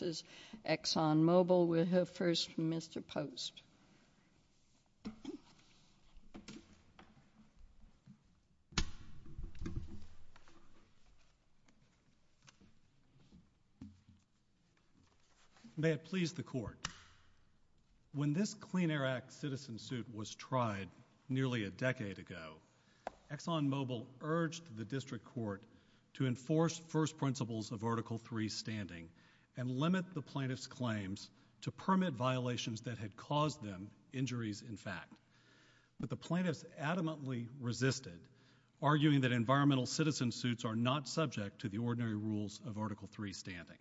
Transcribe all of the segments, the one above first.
v. ExxonMobil May it please the Court. When this Clean Air Act citizen suit was tried nearly a decade ago, ExxonMobil urged the to enforce first principles of Article 3 standing and limit the plaintiff's claims to permit violations that had caused them injuries in fact. But the plaintiffs adamantly resisted, arguing that environmental citizen suits are not subject to the ordinary rules of Article 3 standing.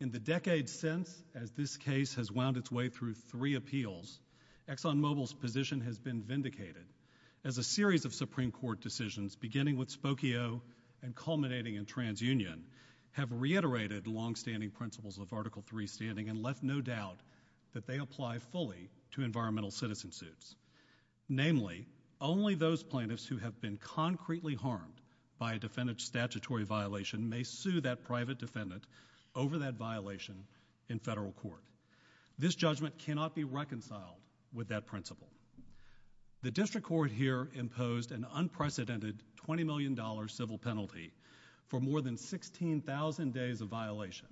In the decades since, as this case has wound its way through three appeals, ExxonMobil's position has been vindicated as a series of Supreme Court decisions, beginning with Spokio and culminating in TransUnion, have reiterated the longstanding principles of Article 3 standing and left no doubt that they apply fully to environmental citizen suits. Namely, only those plaintiffs who have been concretely harmed by a defendant's statutory violation may sue that private defendant over that violation in federal court. This judgment cannot be reconciled with that principle. The District Court here imposed an unprecedented $20 million civil penalty for more than 16,000 days of violation,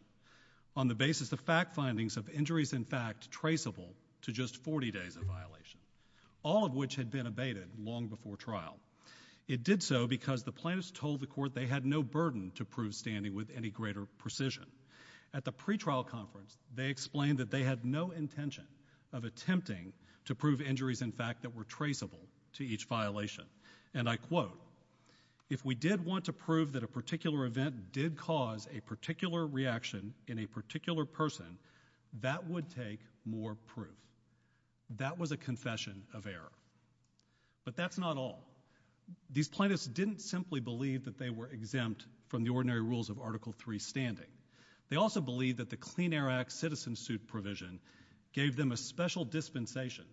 on the basis of fact findings of injuries in fact traceable to just 40 days of violation, all of which had been abated long before trial. It did so because the plaintiffs told the Court they had no burden to prove standing with any greater precision. At the pretrial conference, they explained that they had no intention of attempting to prove injuries in fact that were traceable to each violation. And I quote, If we did want to prove that a particular event did cause a particular reaction in a particular person, that would take more proof. That was a confession of error. But that's not all. These plaintiffs didn't simply believe that they were exempt from the ordinary rules of Article III standing. They also believed that the Clean Air Act citizen suit provision gave them a special dispensation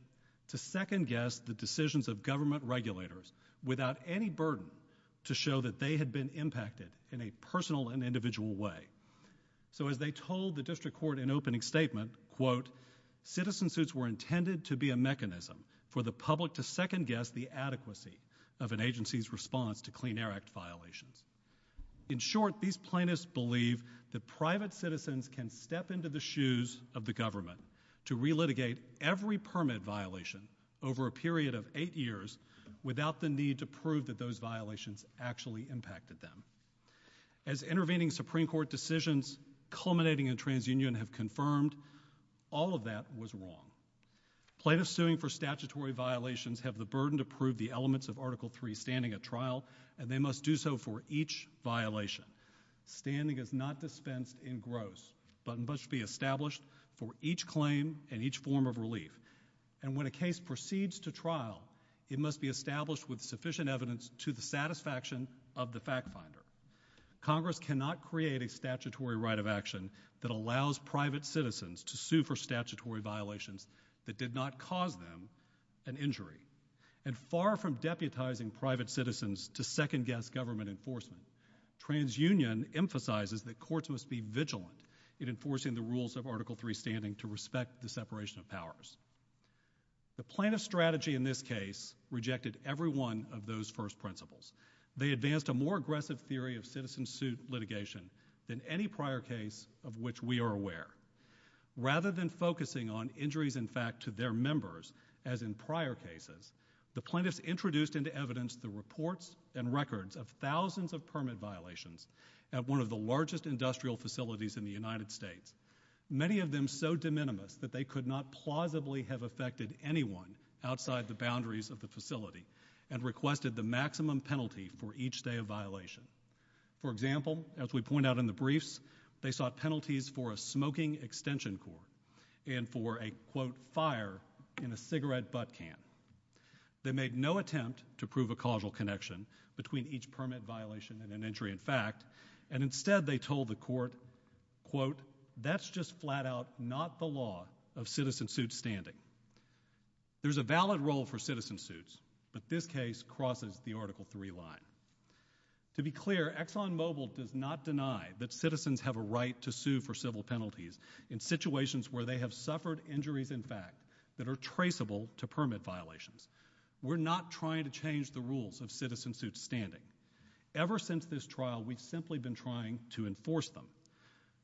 to second-guess the decisions of government regulators without any burden to show that they had been impacted in a personal and individual way. So as they told the District Court in opening statement, quote, Citizen suits were intended to be a mechanism for the public to second-guess the adequacy of an agency's response to Clean Air Act violations. In short, these plaintiffs believe that private citizens can step into the shoes of the government to re-litigate every permit violation over a period of eight years without the need to prove that those violations actually impacted them. As intervening Supreme Court decisions culminating in TransUnion have confirmed, all of that was wrong. Plaintiffs suing for statutory violations have the burden to prove the elements of Article III standing at trial, and they must do so for each violation. Standing is not dispensed in gross, but must be established for each claim and each form of relief. And when a case proceeds to trial, it must be established with sufficient evidence to the satisfaction of the fact-finder. Congress cannot create a statutory right of action that allows private citizens to sue for statutory violations that did not cause them an injury. And far from deputizing private citizens to second-guess government enforcement, TransUnion emphasizes that courts must be vigilant in enforcing the rules of Article III standing to respect the separation of powers. The plaintiff's strategy in this case rejected every one of those first principles. They advanced a more aggressive theory of citizen-suit litigation than any prior case of which we are aware. Rather than focusing on injuries in fact to their members, as in prior cases, the plaintiffs introduced into evidence the reports and records of thousands of permit violations at one of the largest industrial facilities in the United States, many of them so de minimis that they could not plausibly have affected anyone outside the boundaries of the facility, and requested the maximum penalty for each state of violation. For example, as we point out in the briefs, they sought penalties for a smoking extension court and for a, quote, fire in a cigarette butt can. They made no attempt to prove a causal connection between each permit violation and an injury in fact, and instead they told the court, quote, that's just flat out not the law of citizen-suit standing. There's a valid role for citizen-suits, but this case crosses the Article III line. To be clear, ExxonMobil does not deny that citizens have a right to sue for civil penalties in situations where they have suffered injuries in fact that are traceable to permit violations. We're not trying to change the rules of citizen-suit standing. Ever since this trial, we've simply been trying to enforce them.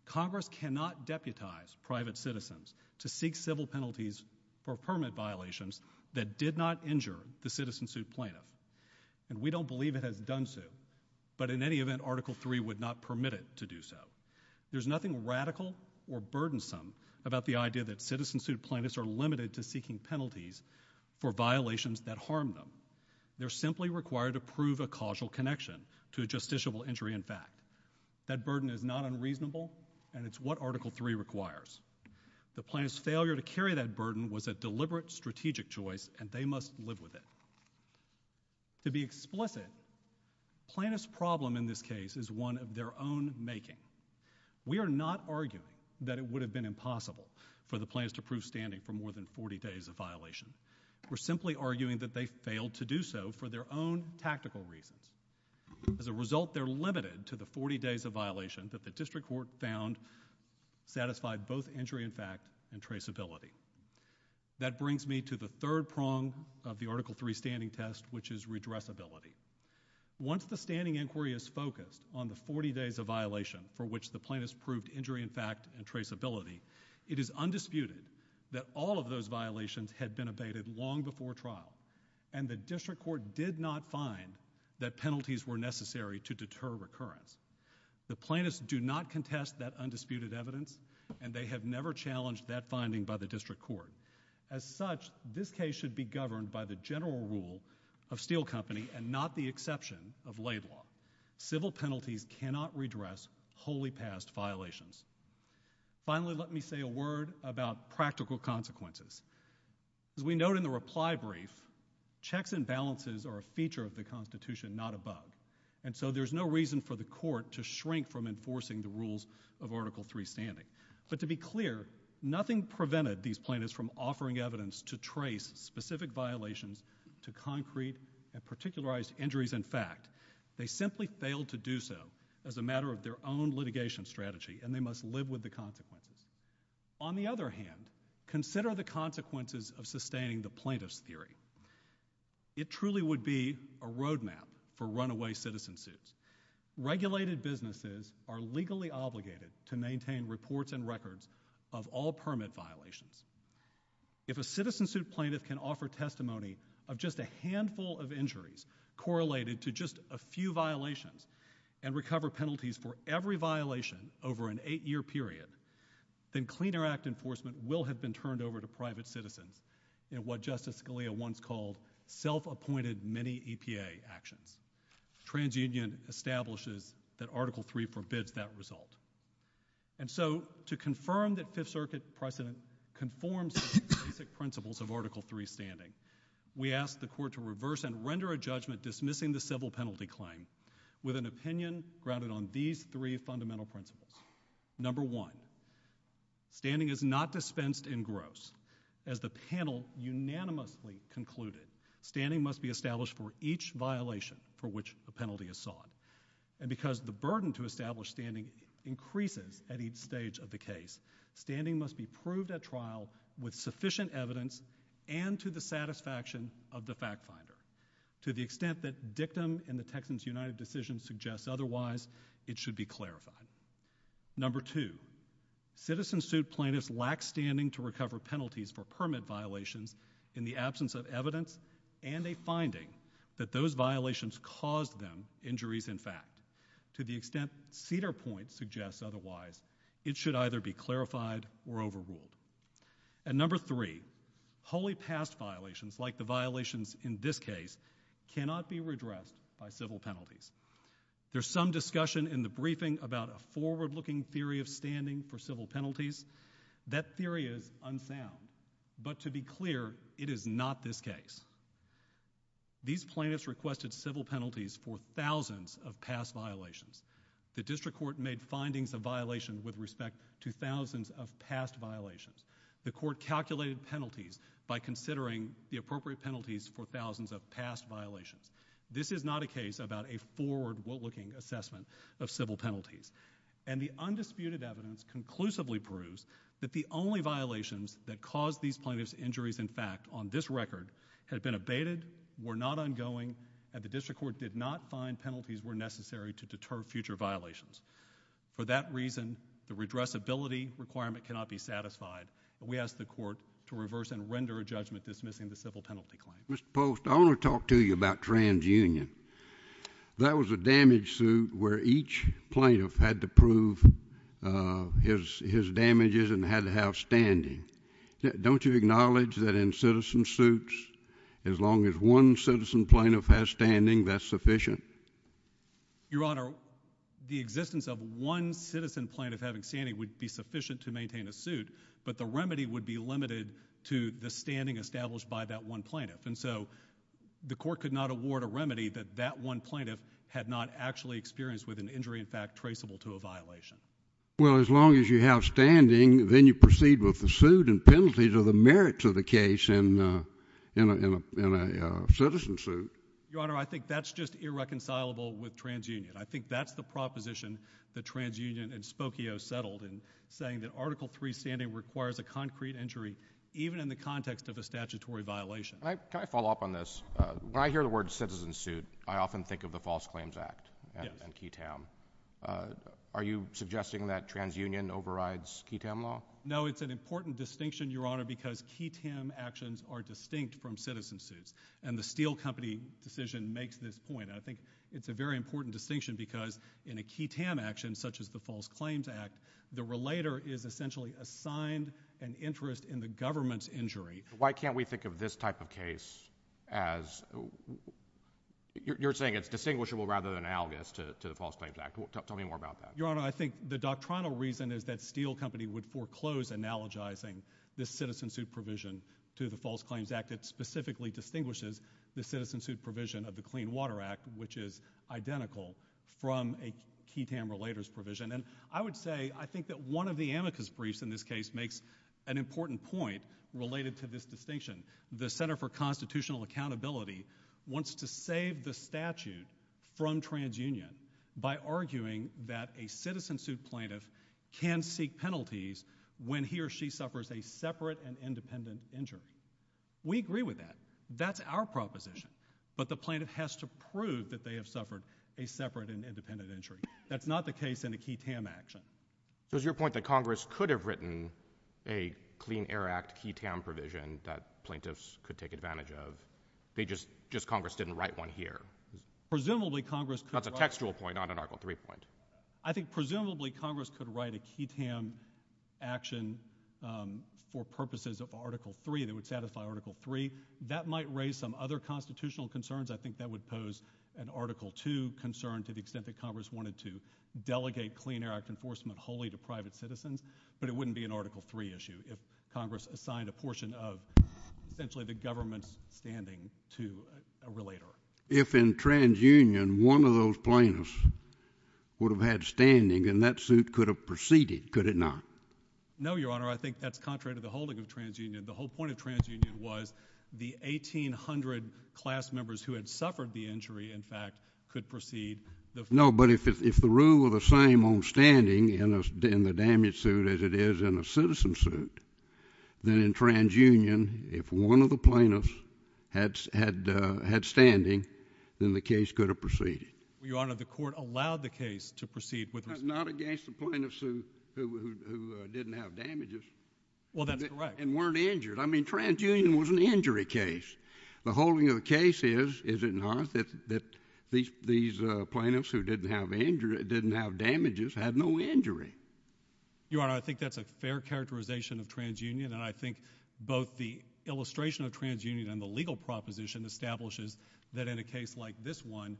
Congress cannot deputize private citizens to seek civil penalties for permit violations that did not injure the citizen-suit plaintiff, and we don't believe it has done so, but in any event, Article III would not permit it to do so. There's nothing radical or burdensome about the idea that citizen-suit plaintiffs are limited to seeking penalties for violations that harm them. They're simply required to prove a causal connection to a justiciable injury in fact. That burden is not unreasonable, and it's what Article III requires. The plaintiff's failure to carry that burden was a deliberate strategic choice, and they must live with it. To be explicit, plaintiff's problem in this case is one of their own making. We are not arguing that it would have been impossible for the plaintiffs to prove standing for more than 40 days of violation. We're simply arguing that they failed to do so for their own tactical reasons. As a result, they're limited to the 40 days of violations that the district court found satisfied both injury in fact and traceability. That brings me to the third prong of the Article III standing test, which is redressability. Once the standing inquiry is focused on the 40 days of violation for which the plaintiffs proved injury in fact and traceability, it is undisputed that all of those violations had been abated long before trial, and the district court did not find that penalties were necessary to deter recurrence. The plaintiffs do not contest that undisputed evidence, and they have never challenged that finding by the district court. As such, this case should be governed by the general rule of Steele Company and not the exception of lay law. Civil penalties cannot redress wholly passed violations. Finally, let me say a word about practical consequences. As we note in the reply brief, checks and balances are a feature of the Constitution, not above. And so there's no reason for the court to shrink from enforcing the rules of Article III standing. But to be clear, nothing prevented these plaintiffs from offering evidence to trace specific violations to concrete and particularized injuries in fact. They simply failed to do so as a matter of their own litigation strategy, and they must live with the consequences. On the other hand, consider the consequences of sustaining the plaintiff's theory. It truly would be a roadmap for runaway citizen suits. Regulated businesses are legally obligated to maintain reports and records of all permit violations. If a citizen suit plaintiff can offer testimony of just a handful of injuries correlated to just a few violations and recover penalties for every violation over an eight-year period, then Clean Air Act enforcement will have been turned over to private citizens in what Justice Scalia once called self-appointed mini-EPA action. TransUnion establishes that Article III forbids that result. And so to confirm that Fifth Circuit precedent conforms to the specific principles of Article III standing, we ask the court to reverse and render a judgment dismissing the civil penalty claim with an opinion grounded on these three fundamental principles. Number one, standing is not dispensed in gross. As the panel unanimously concluded, standing must be established for each violation for which the penalty is sought. And because the burden to establish standing increases at each stage of the case, standing must be proved at trial with sufficient evidence and to the satisfaction of the fact finder. To the extent that victim in the Texans United decision suggests otherwise, it should be clarified. Number two, citizen suit plaintiffs lack standing to recover penalties for permit violations in the absence of evidence and a finding that those violations caused them injuries in fact. To the extent Cedar Point suggests otherwise, it should either be clarified or overruled. And number three, wholly past violations, like the violations in this case, cannot be redressed by civil penalties. There's some discussion in the briefing about a forward-looking theory of standing for civil penalties. That theory is unsound. But to be clear, it is not this case. These plaintiffs requested civil penalties for thousands of past violations. The district court made findings of violations with respect to thousands of past violations. The court calculated penalties by considering the appropriate penalties for thousands of past violations. This is not a case about a forward-looking assessment of civil penalties. And the undisputed evidence conclusively proves that the only violations that caused these plaintiffs injuries in fact on this record had been abated, were not ongoing, and the district court did not find penalties were necessary to deter future violations. For that reason, the redressability requirement cannot be satisfied. We ask the court to reverse and render a judgment dismissing the civil penalty claim. Mr. Post, I want to talk to you about TransUnion. That was a damage suit where each plaintiff had to prove his damages and had to have standing. Don't you acknowledge that in citizen suits, as long as one citizen plaintiff has standing, that's sufficient? Your Honor, the existence of one citizen plaintiff having standing would be sufficient to maintain a suit, but the remedy would be limited to the standing established by that one plaintiff. And so, the court could not award a remedy that that one plaintiff had not actually experienced with an injury in fact traceable to a violation. Well, as long as you have standing, then you proceed with the suit and penalties are the merits of the case in a citizen suit. Your Honor, I think that's just irreconcilable with TransUnion. I think that's the proposition that TransUnion and Spokio settled in saying that Article 3 standing requires a concrete injury, even in the context of a statutory violation. Can I follow up on this? When I hear the word citizen suit, I often think of the False Claims Act and QTAM. Are you suggesting that TransUnion overrides QTAM law? No, it's an important distinction, Your Honor, because QTAM actions are distinct from citizen suits. And the Steele Company decision makes this point. I think it's a very important distinction because in a QTAM action, such as the False Claims Act, the relator is essentially assigned an interest in the government's injury. Why can't we think of this type of case as – you're saying it's distinguishable rather than analogous to the False Claims Act. Tell me more about that. Your Honor, I think the doctrinal reason is that Steele Company would foreclose analogizing this citizen suit provision to the False Claims Act. It specifically distinguishes the citizen suit provision of the Clean Water Act, which is identical from a QTAM relator's provision. And I would say, I think that one of the amicus briefs in this case makes an important point related to this distinction. The Center for Constitutional Accountability wants to save the statute from transunion by arguing that a citizen suit plaintiff can seek penalties when he or she suffers a separate and independent injury. We agree with that. That's our proposition. But the plaintiff has to prove that they have suffered a separate and independent injury. That's not the case in a QTAM action. So is your point that Congress could have written a Clean Air Act QTAM provision that plaintiffs could take advantage of, they just – just Congress didn't write one here? Presumably, Congress could write – That's a textual point, not an Article III point. I think presumably, Congress could write a QTAM action for purposes of Article III that would satisfy Article III. That might raise some other constitutional concerns. I think that would pose an Article II concern to the extent that Congress wanted to delegate the Clean Air Act enforcement wholly to private citizens, but it wouldn't be an Article III issue if Congress assigned a portion of essentially the government's standing to a relator. If in transunion, one of those plaintiffs would have had standing, then that suit could have proceeded, could it not? No, Your Honor. I think that's contrary to the holding of transunion. The whole point of transunion was the 1,800 class members who had suffered the injury, in fact, could proceed. No, but if the rule were the same on standing in the damage suit as it is in a citizen suit, then in transunion, if one of the plaintiffs had standing, then the case could have proceeded. Your Honor, the court allowed the case to proceed with the – It's not against the plaintiff's suit who didn't have damages. Well, that's correct. And weren't injured. I mean, transunion was an injury case. The holding of the case is, is it not, that these plaintiffs who didn't have damages had no injury? Your Honor, I think that's a fair characterization of transunion, and I think both the illustration of transunion and the legal proposition establishes that in a case like this one,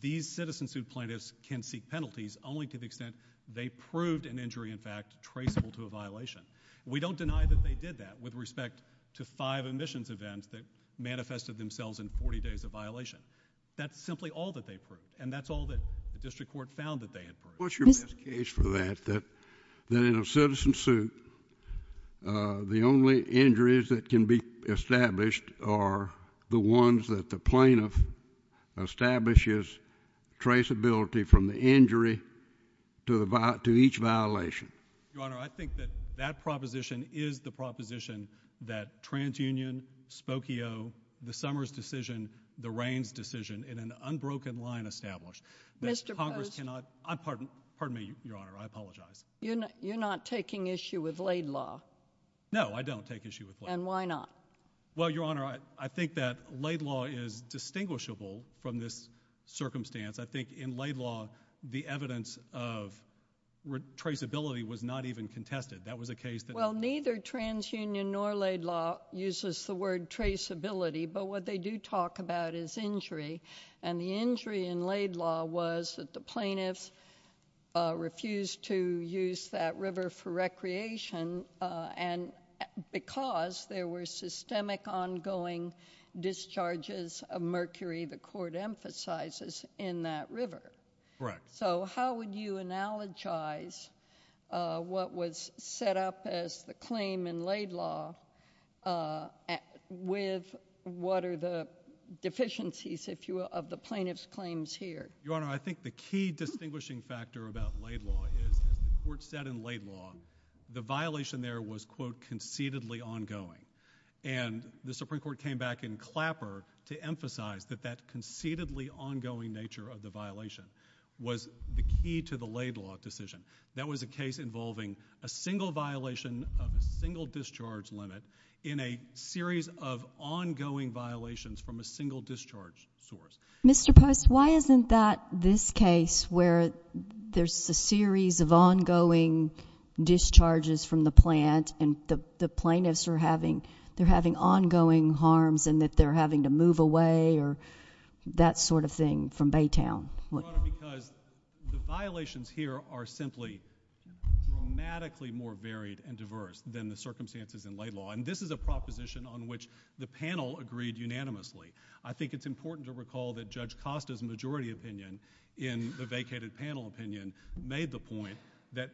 these citizen suit plaintiffs can seek penalties only to the extent they proved an injury, in fact, traceable to a violation. We don't deny that they did that with respect to five admissions events that manifested themselves in 40 days of violation. That's simply all that they proved, and that's all that the district court found that they inferred. What's your best case for that, that in a citizen suit, the only injuries that can be established are the ones that the plaintiff establishes traceability from the injury to each violation? Your Honor, I think that that proposition is the proposition that transunion, Spokio, the Summers decision, the Raines decision, in an unbroken line established. Mr. Post? I'm pardon, pardon me, Your Honor, I apologize. You're not taking issue with Laid Law? No, I don't take issue with Laid Law. And why not? Well, Your Honor, I think that Laid Law is distinguishable from this circumstance. I think in Laid Law, the evidence of traceability was not even contested. That was the case that- Well, neither transunion nor Laid Law uses the word traceability, but what they do talk about is injury. And the injury in Laid Law was that the plaintiff refused to use that river for recreation, and because there were systemic ongoing discharges of mercury, the court emphasizes, in that river. Correct. So how would you analogize what was set up as the claim in Laid Law with what are the deficiencies, if you will, of the plaintiff's claims here? Your Honor, I think the key distinguishing factor about Laid Law is, the court said in Laid Law, the violation there was, quote, concededly ongoing. And the Supreme Court came back in Clapper to emphasize that that concededly ongoing nature of the violation was the key to the Laid Law decision. That was a case involving a single violation of a single discharge limit in a series of ongoing violations from a single discharge source. Mr. Post, why isn't that this case where there's a series of ongoing discharges from the plant and the plaintiffs are having, they're having ongoing harms and that they're having to move away or that sort of thing from Baytown? Well, Your Honor, because the violations here are simply dramatically more varied and diverse than the circumstances in Laid Law, and this is a proposition on which the panel agreed unanimously. I think it's important to recall that Judge Costa's majority opinion in the vacated panel opinion made the point that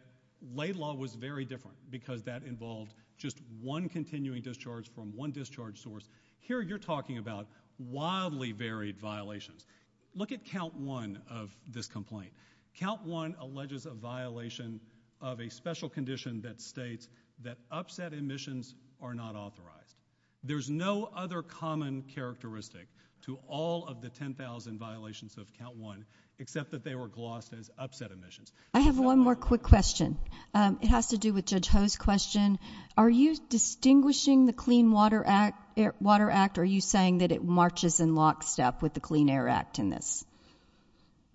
Laid Law was very different because that involved just one continuing discharge from one discharge source. Here you're talking about wildly varied violations. Look at count one of this complaint. Count one alleges a violation of a special condition that states that upset admissions are not authorized. There's no other common characteristic to all of the 10,000 violations of count one except that they were glossed as upset admissions. I have one more quick question. It has to do with Judge Ho's question. Are you distinguishing the Clean Water Act, are you saying that it marches in lockstep with the Clean Air Act in this?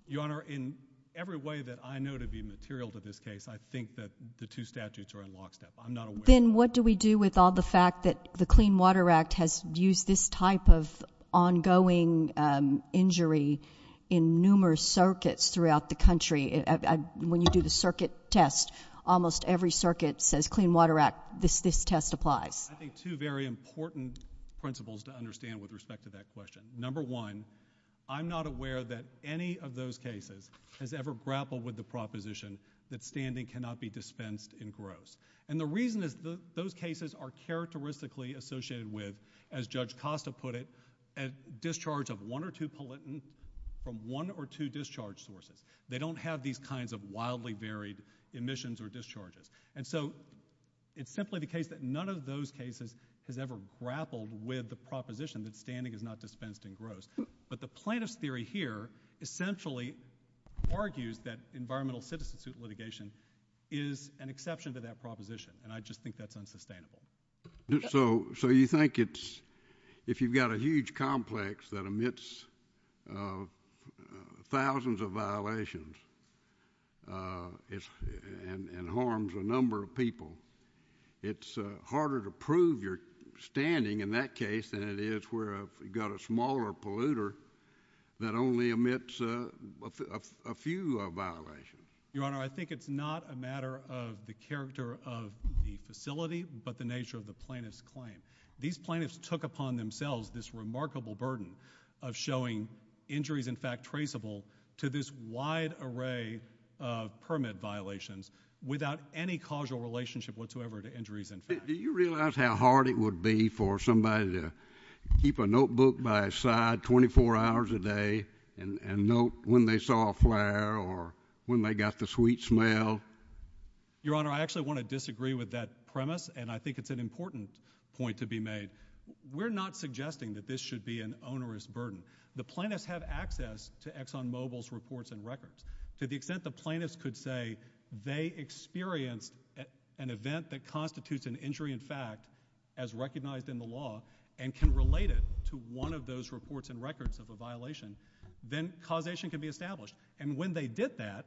Your Honor, in every way that I know to be material to this case, I think that the two statutes are in lockstep. I'm not aware of that. Then what do we do with all the fact that the Clean Water Act has used this type of ongoing injury in numerous circuits throughout the country? When you do the circuit test, almost every circuit says Clean Water Act, this test applies. I think two very important principles to understand with respect to that question. Number one, I'm not aware that any of those cases has ever grappled with the proposition that standing cannot be dispensed in gross. The reason is those cases are characteristically associated with, as Judge Costa put it, discharge of one or two pollutants from one or two discharge sources. They don't have these kinds of wildly varied admissions or discharges. It's simply the case that none of those cases has ever grappled with the proposition that standing is not dispensed in gross. The plaintiff's theory here essentially argues that environmental citizen suit litigation is an exception to that proposition, and I just think that's unsustainable. So you think it's, if you've got a huge complex that emits thousands of violations and harms a number of people, it's harder to prove your standing in that case than it is where you've got a smaller polluter that only emits a few violations? Your Honor, I think it's not a matter of the character of the facility, but the nature of the plaintiff's claim. These plaintiffs took upon themselves this remarkable burden of showing injuries in fact traceable to this wide array of permit violations without any causal relationship whatsoever to injuries in fact traceable. Do you realize how hard it would be for somebody to keep a notebook by his side 24 hours a day and note when they saw a flyer or when they got the sweet smell? Your Honor, I actually want to disagree with that premise, and I think it's an important point to be made. We're not suggesting that this should be an onerous burden. The plaintiffs have access to ExxonMobil's reports and records. To the extent the plaintiffs could say they experienced an event that constitutes an injury in fact as recognized in the law and can relate it to one of those reports and records of violations, then causation can be established. And when they did that,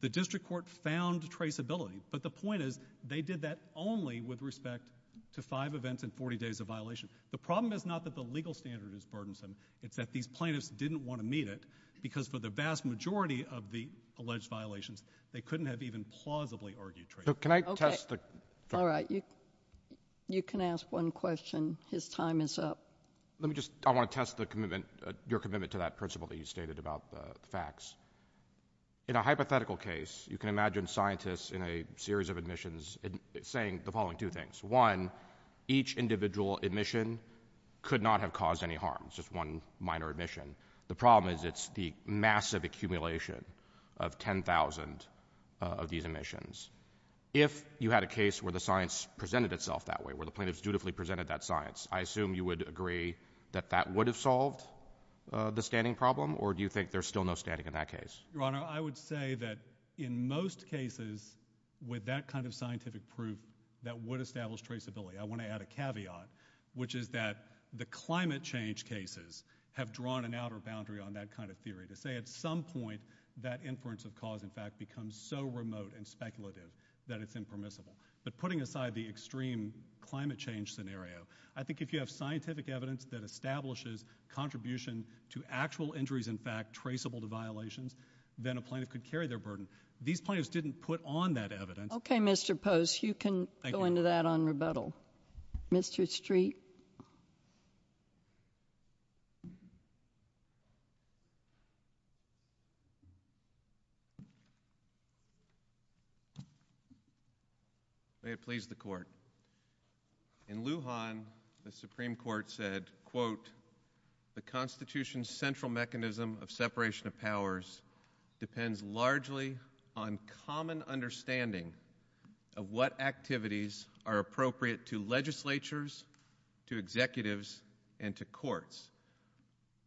the district court found traceability. But the point is, they did that only with respect to five events and 40 days of violation. The problem is not that the legal standard is burdensome, it's that these plaintiffs didn't want to meet it because for the vast majority of the alleged violations, they couldn't have even plausibly argued traceability. Can I test the... Okay. All right. You can ask one question. His time is up. Let me just... Okay. Let me just ask your commitment to that principle that you stated about the facts. In a hypothetical case, you can imagine scientists in a series of admissions saying the following two things. One, each individual admission could not have caused any harm. It's just one minor admission. The problem is it's the massive accumulation of 10,000 of these admissions. If you had a case where the science presented itself that way, where the plaintiffs dutifully presented that science, I assume you would agree that that would have solved the standing problem or do you think there's still no standing in that case? Ron, I would say that in most cases, with that kind of scientific proof, that would establish traceability. I want to add a caveat, which is that the climate change cases have drawn an outer boundary on that kind of theory. To say at some point, that inference of cause and fact becomes so remote and speculative that it's impermissible. But putting aside the extreme climate change scenario, I think if you have scientific evidence that establishes contribution to actual injuries in fact traceable to violations, then a plaintiff could carry their burden. These plaintiffs didn't put on that evidence. Okay, Mr. Post, you can go into that on rebuttal. Mr. Street? May it please the Court. In Lujan, the Supreme Court said, quote, the Constitution's central mechanism of separation of powers depends largely on common understanding of what activities are appropriate to legislatures, to executives, and to courts.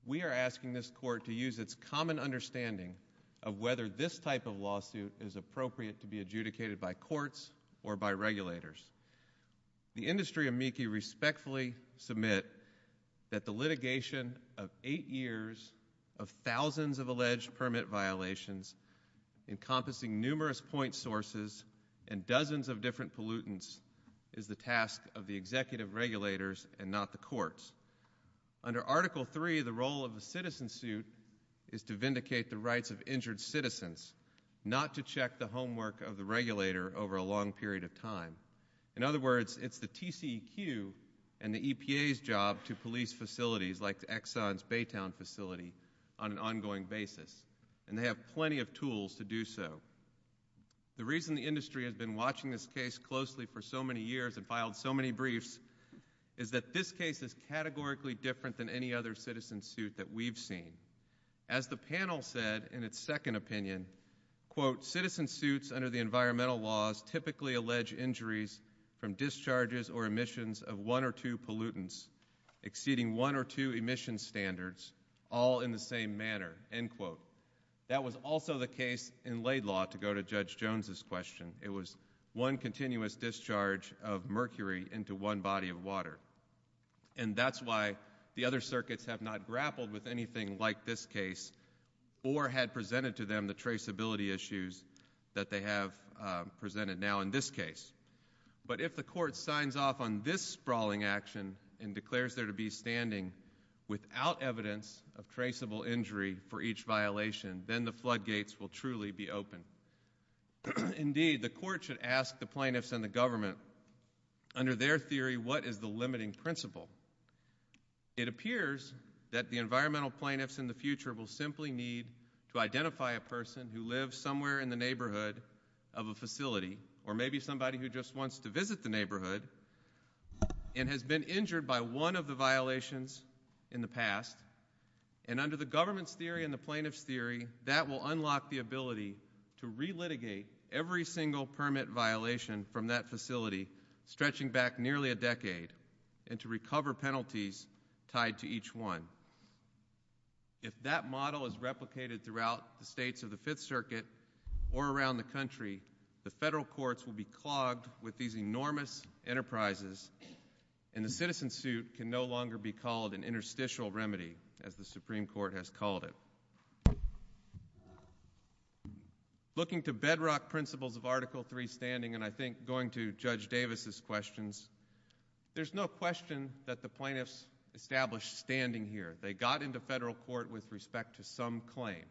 We are asking this Court to use its common understanding of whether this type of lawsuit is appropriate to be adjudicated by courts or by regulators. The industry amici respectfully submit that the litigation of eight years of thousands of alleged permit violations encompassing numerous point sources and dozens of different pollutants is the task of the executive regulators and not the courts. Under Article III, the role of the citizen suit is to vindicate the rights of injured citizens, not to check the homework of the regulator over a long period of time. In other words, it's the TCEQ and the EPA's job to police facilities like the Exxon's Baytown facility on an ongoing basis, and they have plenty of tools to do so. The reason the industry has been watching this case closely for so many years and filed so many briefs is that this case is categorically different than any other citizen suit that we've seen. As the panel said in its second opinion, quote, citizen suits under the environmental laws typically allege injuries from discharges or emissions of one or two pollutants exceeding one or two emission standards all in the same manner, end quote. That was also the case in Laidlaw, to go to Judge Jones's question. It was one continuous discharge of mercury into one body of water. And that's why the other circuits have not grappled with anything like this case or had presented to them the traceability issues that they have presented now in this case. But if the court signs off on this sprawling action and declares there to be standing without evidence of traceable injury for each violation, then the floodgates will truly be opened. Indeed, the court should ask the plaintiffs and the government, under their theory, what is the limiting principle? It appears that the environmental plaintiffs in the future will simply need to identify a person who lives somewhere in the neighborhood of a facility or maybe somebody who just wants to visit the neighborhood and has been injured by one of the violations in the past. And under the government's theory and the plaintiff's theory, that will unlock the ability to relitigate every single permit violation from that facility stretching back nearly a decade and to recover penalties tied to each one. If that model is replicated throughout the states of the Fifth Circuit or around the country, the federal courts will be clogged with these enormous enterprises, and the citizen suit can no longer be called an interstitial remedy, as the Supreme Court has called it. Looking to bedrock principles of Article III standing, and I think going to Judge Davis' questions, there's no question that the plaintiffs established standing here. They got into federal court with respect to some claim.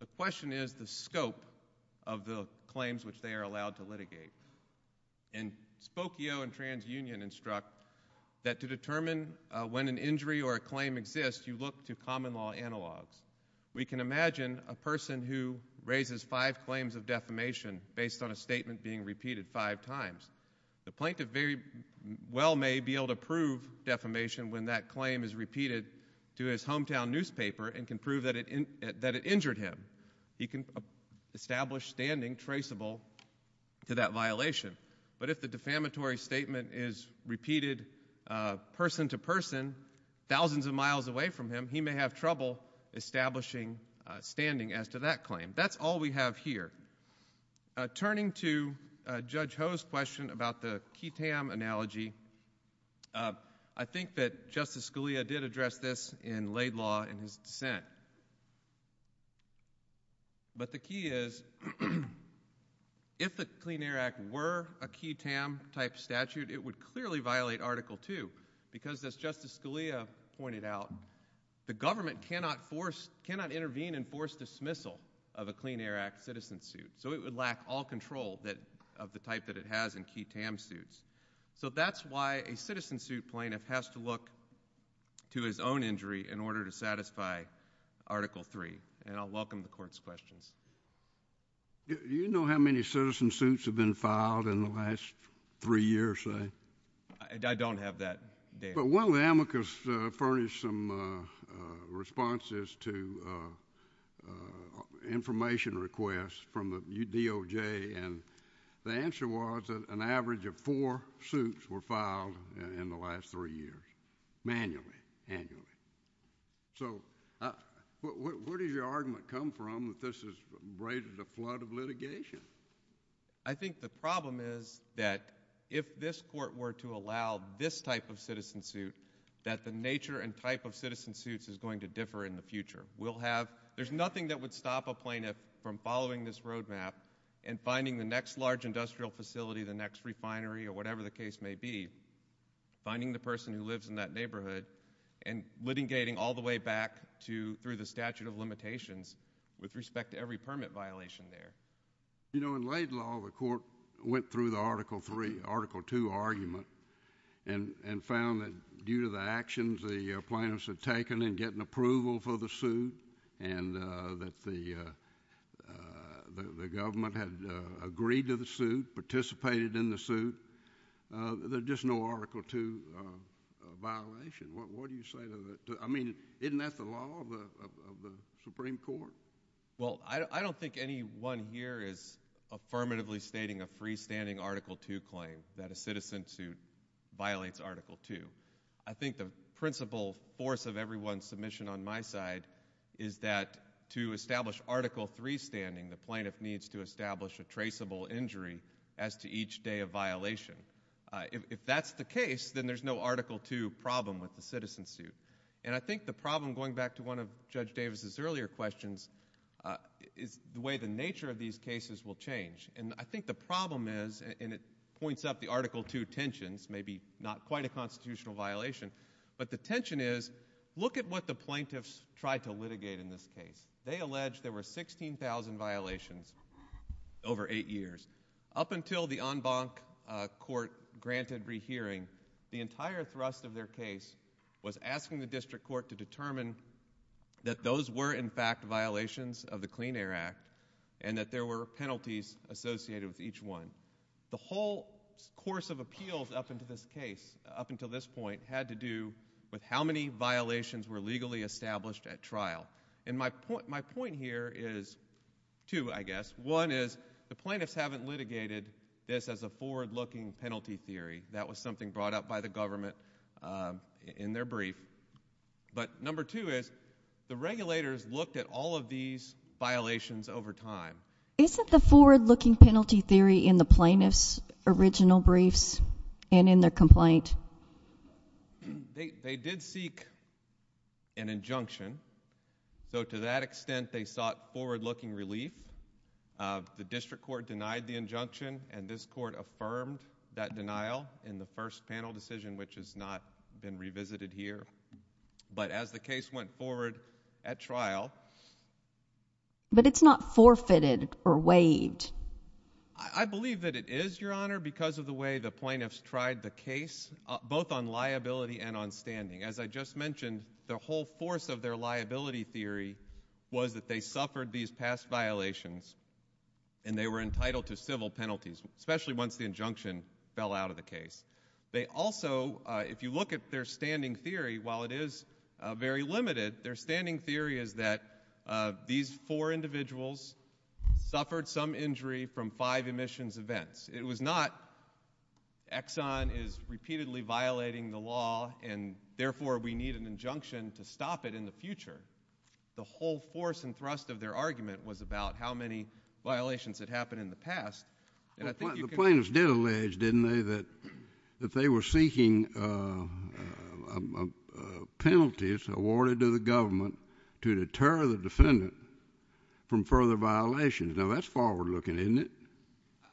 The question is the scope of the claims which they are allowed to litigate. And Spokio and TransUnion instruct that to determine when an injury or a claim exists, you look to common law analog. We can imagine a person who raises five claims of defamation based on a statement being repeated five times. The plaintiff very well may be able to prove defamation when that claim is repeated to his hometown newspaper and can prove that it injured him. He can establish standing traceable to that violation. But if the defamatory statement is repeated person to person, thousands of miles away from him, he may have trouble establishing standing as to that claim. That's all we have here. Turning to Judge Ho's question about the key TAM analogy, I think that Justice Scalia did address this in laid law in his dissent. But the key is, if the Clean Air Act were a key TAM-type statute, it would clearly violate Article 2 because, as Justice Scalia pointed out, the government cannot intervene and force dismissal of a Clean Air Act citizen suit. So it would lack all control of the type that it has in key TAM suits. So that's why a citizen suit plaintiff has to look to his own injury in order to satisfy Article 3. And I'll welcome the Court's question. Do you know how many citizen suits have been filed in the last three years? I don't have that data. But one of the amicus furnished some responses to information requests from the DOJ, and the answer was that an average of four suits were filed in the last three years, manually, annually. So where did your argument come from that this has raised a flood of litigation? I think the problem is that if this Court were to allow this type of citizen suit, that the nature and type of citizen suits is going to differ in the future. There's nothing that would stop a plaintiff from following this roadmap and finding the next large industrial facility, the next refinery, or whatever the case may be, finding the person who lives in that neighborhood, and litigating all the way back through the statute of limitations with respect to every permit violation there. You know, in late law, the Court went through the Article 3, Article 2 argument and found that due to the actions the plaintiffs had taken in getting approval for the suit and that the government had agreed to the suit, participated in the suit, there's just no Article 2 violation. What do you say to that? I mean, isn't that the law of the Supreme Court? Well, I don't think anyone here is affirmatively stating a freestanding Article 2 claim, that a citizen suit violates Article 2. I think the principal force of everyone's submission on my side is that to establish Article 3 standing, the plaintiff needs to establish a traceable injury as to each day of violation. If that's the case, then there's no Article 2 problem with the citizen suit. And I think the problem, going back to one of Judge Davis' earlier questions, is the way the nature of these cases will change. And I think the problem is, and it points up the Article 2 tensions, maybe not quite a constitutional violation, but the tension is, look at what the plaintiffs tried to litigate in this case. They alleged there were 16,000 violations over eight years. Up until the en banc court granted rehearing, the entire thrust of their case was asking the district court to determine that those were, in fact, violations of the Clean Air Act and that there were penalties associated with each one. The whole course of appeals up until this point had to do with how many violations were legally established at trial. And my point here is two, I guess. One is, the plaintiffs haven't litigated this as a forward-looking penalty theory. That was something brought up by the government in their brief. But number two is, the regulators looked at all of these violations over time. Isn't the forward-looking penalty theory in the plaintiff's original brief and in the complaint? They did seek an injunction. So to that extent, they sought forward-looking relief. The district court denied the injunction, and this court affirmed that denial in the first panel decision, which has not been revisited here. But as the case went forward at trial... But it's not forfeited or waived. I believe that it is, Your Honor, because of the way the plaintiffs tried the case, both on liability and on standing. As I just mentioned, the whole force of their liability theory was that they suffered these past violations and they were entitled to civil penalties, especially once the injunction fell out of the case. They also, if you look at their standing theory, while it is very limited, their standing theory is that these four individuals suffered some injury from five emissions events. It was not Exxon is repeatedly violating the law, and therefore we need an injunction to stop it in the future. The whole force and thrust of their argument was about how many violations had happened in the past. The plaintiffs did allege, didn't they, that they were seeking penalties awarded to the government to deter the defendant from further violations. Now, that's forward-looking, isn't it?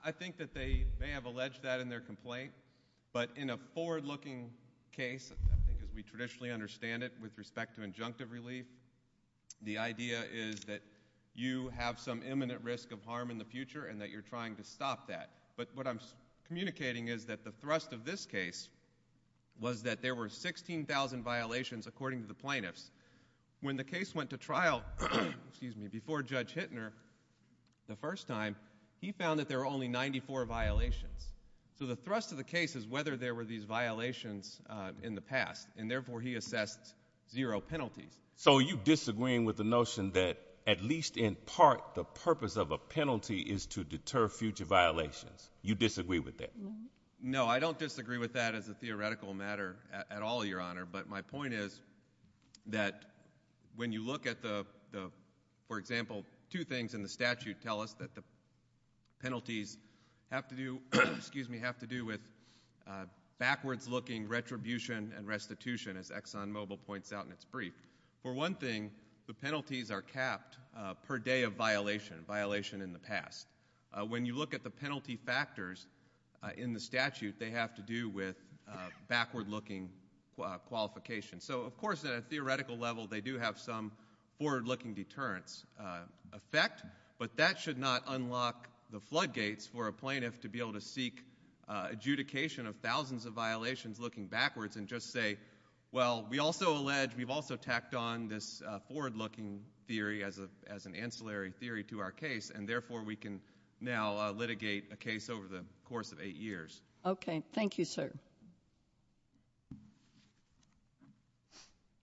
I think that they may have alleged that in their complaint, but in a forward-looking case, I think we traditionally understand it with respect to injunctive relief, the idea is that you have some imminent risk of harm in the future and that you're trying to stop that. But what I'm communicating is that the thrust of this case was that there were 16,000 violations, according to the plaintiffs. When the case went to trial before Judge Hittner the first time, he found that there were only 94 violations. So the thrust of the case is whether there were these violations in the past, and therefore he assessed zero penalties. So you're disagreeing with the notion that at least in part the purpose of a penalty is to deter future violations. You disagree with that? No, I don't disagree with that as a theoretical matter at all, Your Honor. But my point is that when you look at the, for example, two things in the statute tell us that the penalties have to do with backwards-looking retribution and restitution, as ExxonMobil points out in its brief. For one thing, the penalties are capped per day of violation, violation in the past. When you look at the penalty factors in the statute, they have to do with backward-looking qualification. So, of course, at a theoretical level they do have some forward-looking deterrence effect, but that should not unlock the floodgates for a plaintiff to be able to seek adjudication of thousands of violations looking backwards and just say, well, we also allege we've also tacked on this forward-looking theory as an ancillary theory to our case, and therefore we can now litigate a case over the course of eight years. Okay. Thank you, sir.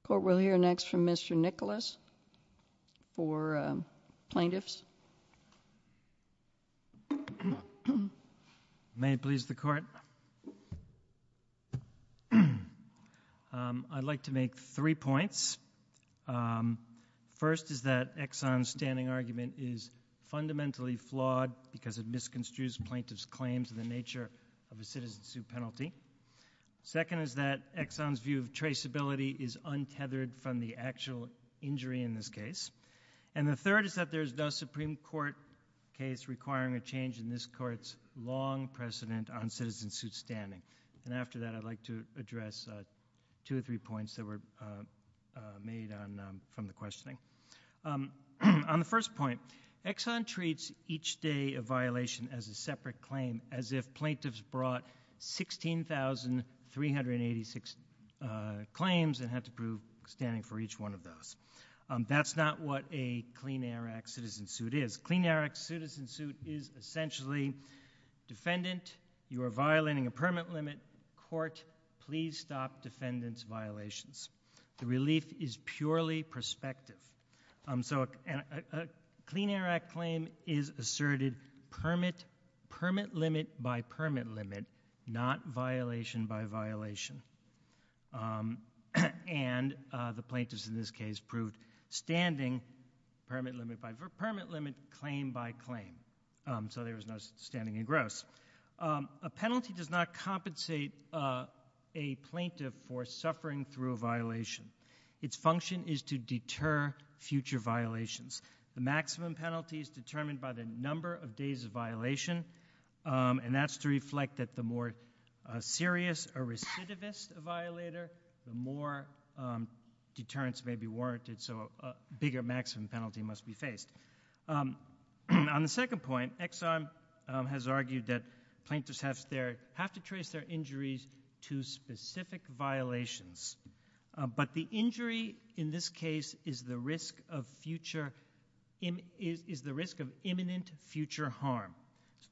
Court will hear next from Mr. Nicholas for plaintiffs. May it please the Court? I'd like to make three points. First is that Exxon's standing argument is fundamentally flawed because it misconstrues the plaintiff's claims and the nature of the citizen's suit penalty. Second is that Exxon's view of traceability is untethered from the actual injury in this case. And the third is that there is no Supreme Court case requiring a change in this Court's long precedent on citizen's suit standing. And after that, I'd like to address two or three points that were made from the questioning. On the first point, Exxon treats each day of violation as a separate claim, as if plaintiffs brought 16,386 claims and had to prove standing for each one of those. That's not what a clean air act citizen's suit is. A clean air act citizen's suit is essentially defendant, you are violating a permit limit, court, please stop defendant's violations. The relief is purely perspective. So a clean air act claim is asserted permit limit by permit limit, not violation by violation. And the plaintiffs in this case proved standing permit limit by permit limit, claim by claim. So there is no standing in gross. A penalty does not compensate a plaintiff for suffering through a violation. Its function is to deter future violations. The maximum penalty is determined by the number of days of violation, and that's to reflect that the more serious or recidivist a violator, the more deterrence may be warranted, so a bigger maximum penalty must be faced. On the second point, Exxon has argued that plaintiffs have to trace their injuries to specific violations. But the injury in this case is the risk of imminent future harm.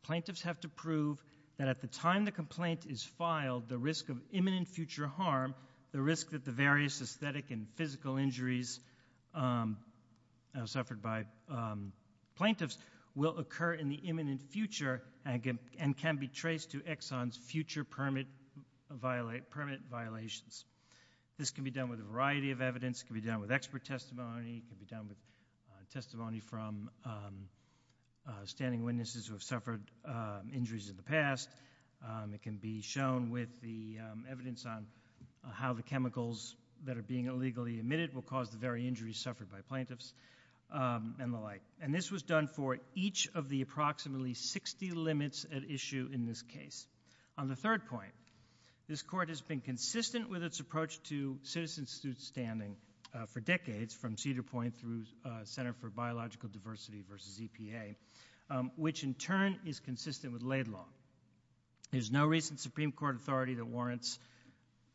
Plaintiffs have to prove that at the time the complaint is filed, the risk of imminent future harm, the risk that the various aesthetic and physical injuries suffered by plaintiffs will occur in the imminent future and can be traced to Exxon's future permit violations. This can be done with a variety of evidence. It can be done with expert testimony. It can be done with testimony from standing witnesses who have suffered injuries in the past. It can be shown with the evidence on how the chemicals that are being illegally emitted will cause the very injuries suffered by plaintiffs and the like. And this was done for each of the approximately 60 limits at issue in this case. On the third point, this Court has been consistent with its approach to citizen-assisted standing for decades, from Cedar Point through Center for Biological Diversity versus EPA, which in turn is consistent with Laid Law. There's no recent Supreme Court authority that warrants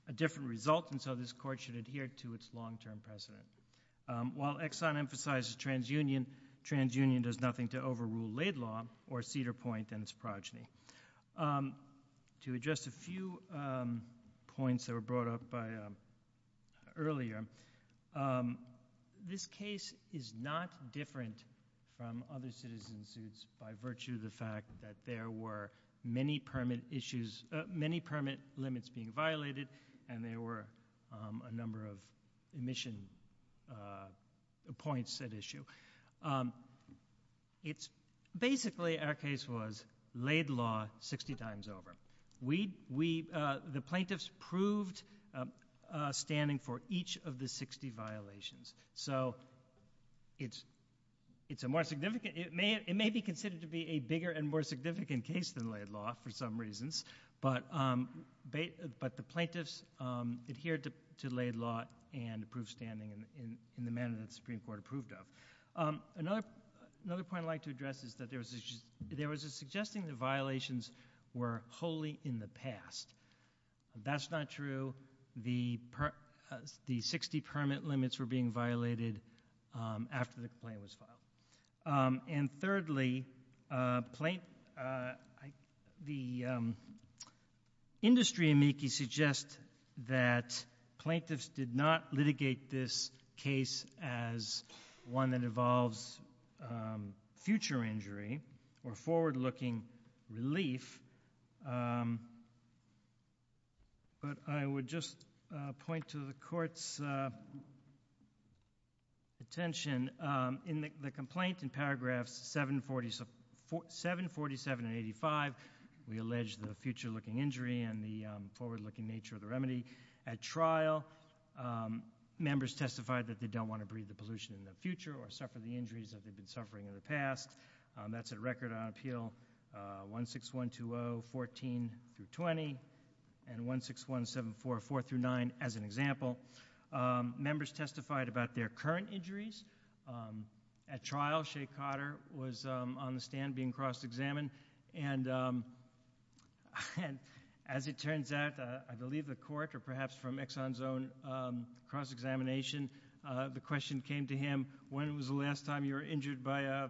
a different result, and so this Court should adhere to its long-term precedent. While Exxon emphasizes transunion, transunion does nothing to overrule Laid Law or Cedar Point and its progeny. To address a few points that were brought up earlier, this case is not different from other citizens' suits by virtue of the fact that there were many permit limits being violated and there were a number of emission points at issue. Basically, our case was Laid Law 60 times over. The plaintiffs proved standing for each of the 60 violations. It may be considered to be a bigger and more significant case than Laid Law for some reasons, but the plaintiffs adhered to Laid Law and proved standing in the manner that the Supreme Court approved of. Another point I'd like to address is that there was a suggestion that the violations were wholly in the past. That's not true. The 60 permit limits were being violated after the complaint was filed. And thirdly, the industry amici suggest that plaintiffs did not litigate this case as one that involves future injury or forward-looking relief, but I would just point to the Court's attention. In the complaint in paragraphs 7, 47, and 85, we allege the future-looking injury and the forward-looking nature of the remedy. At trial, members testified that they don't want to breathe the pollution into the future or suffer the injuries that they've been suffering in the past. That's a record on Appeal 16120, 14-20, and 16174, 4-9, as an example. Members testified about their current injuries. At trial, Shea Cotter was on the stand being cross-examined, and as it turns out, I believe the Court, or perhaps from Exxon's own cross-examination, the question came to him, when was the last time you were injured by an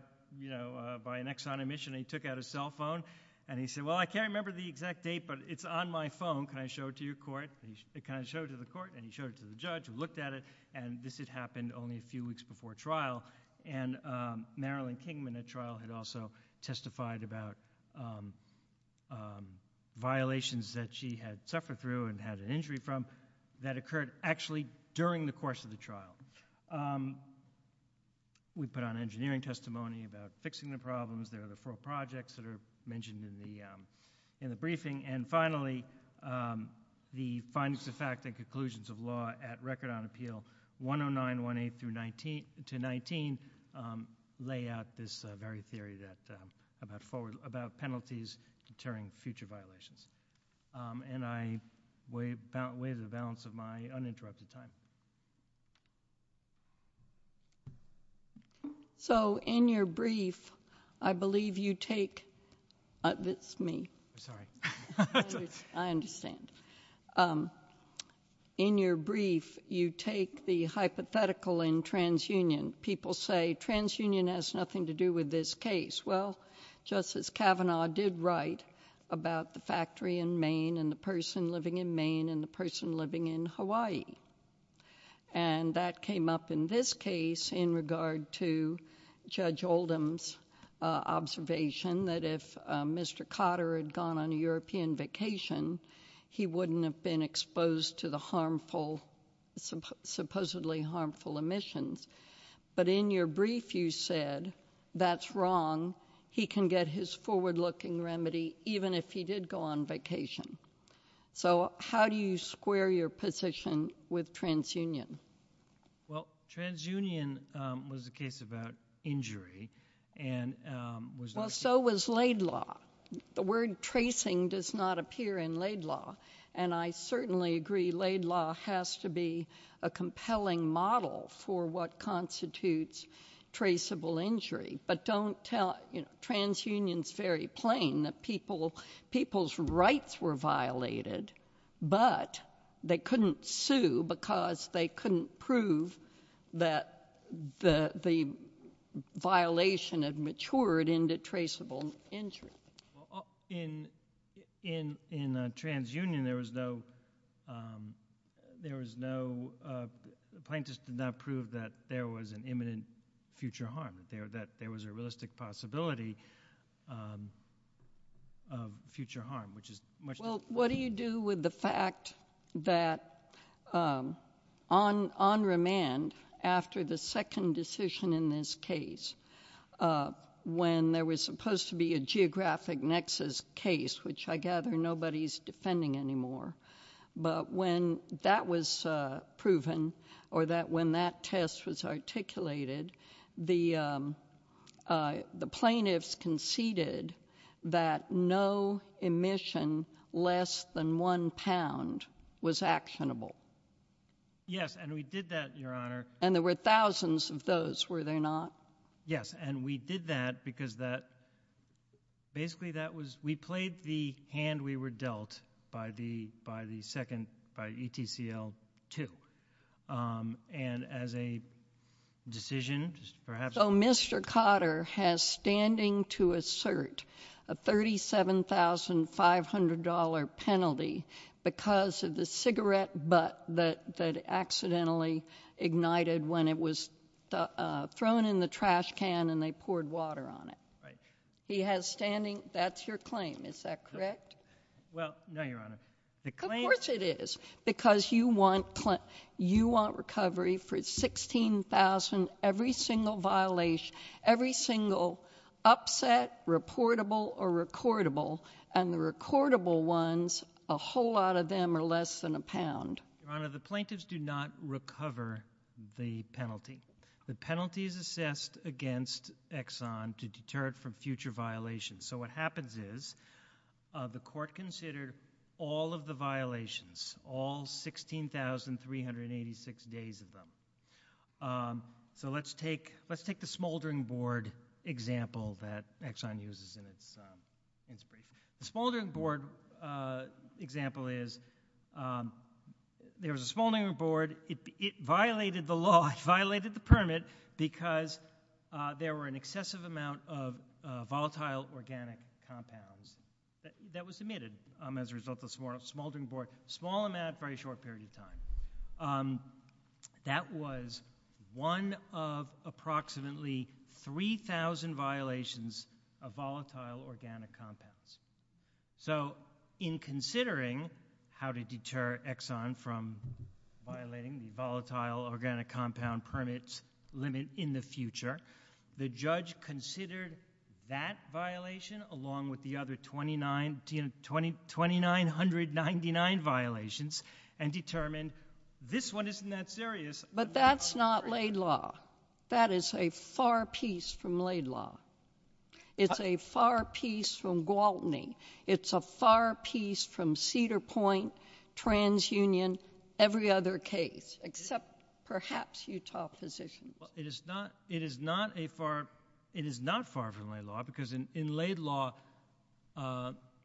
Exxon emission? And he took out his cell phone, and he said, well, I can't remember the exact date, but it's on my phone. Can I show it to your court? And he showed it to the court, and he showed it to the judge, and looked at it, and this had happened only a few weeks before trial. And Marilyn Kingman at trial had also testified about violations that she had suffered through and had an injury from that occurred actually during the course of the trial. We put on engineering testimony about fixing the problems. There are the four projects that are mentioned in the briefing. And finally, the findings of fact and conclusions of law at record on Appeal 10918-19 lay out this very theory about penalties deterring future violations. And I weigh the balance of my uninterrupted time. So in your brief, I believe you take the hypothetical in transunion. People say transunion has nothing to do with this case. Well, Justice Kavanaugh did write about the factory in Maine and the person living in Maine and the person living in Hawaii. And that came up in this case in regard to Judge Oldham's observation that if Mr. Cotter had gone on a European vacation, he wouldn't have been exposed to the supposedly harmful emissions. But in your brief, you said that's wrong. He can get his forward-looking remedy even if he did go on vacation. So how do you square your position with transunion? Well, transunion was a case about injury. Well, so was Laidlaw. The word tracing does not appear in Laidlaw. And I certainly agree Laidlaw has to be a compelling model for what constitutes traceable injury. But transunion is very plain that people's rights were violated, but they couldn't sue because they couldn't prove that the violation had matured into traceable injury. In transunion, there was no— the plaintiffs did not prove that there was an imminent future harm, that there was a realistic possibility of future harm, which is much— Well, what do you do with the fact that on remand, after the second decision in this case, when there was supposed to be a geographic nexus case, which I gather nobody's defending anymore, but when that was proven or when that test was articulated, the plaintiffs conceded that no emission less than one pound was actionable. Yes, and we did that, Your Honor. And there were thousands of those, were there not? Yes, and we did that because that—basically, that was—we played the hand we were dealt by the second—by ETCL II. And as a decision, perhaps— So Mr. Cotter has standing to assert a $37,500 penalty because of the cigarette butt that accidentally ignited when it was thrown in the trash can and they poured water on it. Right. He has standing—that's your claim, is that correct? Well, no, Your Honor. Of course it is, because you want recovery for $16,000, every single violation, every single upset reportable or recordable, and the recordable ones, a whole lot of them are less than a pound. Your Honor, the plaintiffs do not recover the penalty. The penalty is assessed against Exxon to deter it from future violations. So what happens is the court considered all of the violations, all 16,386 days of them. So let's take the smoldering board example that Exxon uses in its— The smoldering board example is there was a smoldering board. It violated the law, it violated the permit because there were an excessive amount of volatile organic compounds that was emitted as a result of the smoldering board, a small amount, very short period of time. That was one of approximately 3,000 violations of volatile organic compounds. So in considering how to deter Exxon from violating the volatile organic compound permit limit in the future, the judge considered that violation along with the other 2,999 violations and determined this one isn't that serious. But that's not laid law. That is a far piece from laid law. It's a far piece from Gwaltney. It's a far piece from Cedar Point, TransUnion, every other case except perhaps Utah Physicians. It is not a far—it is not far from laid law because in laid law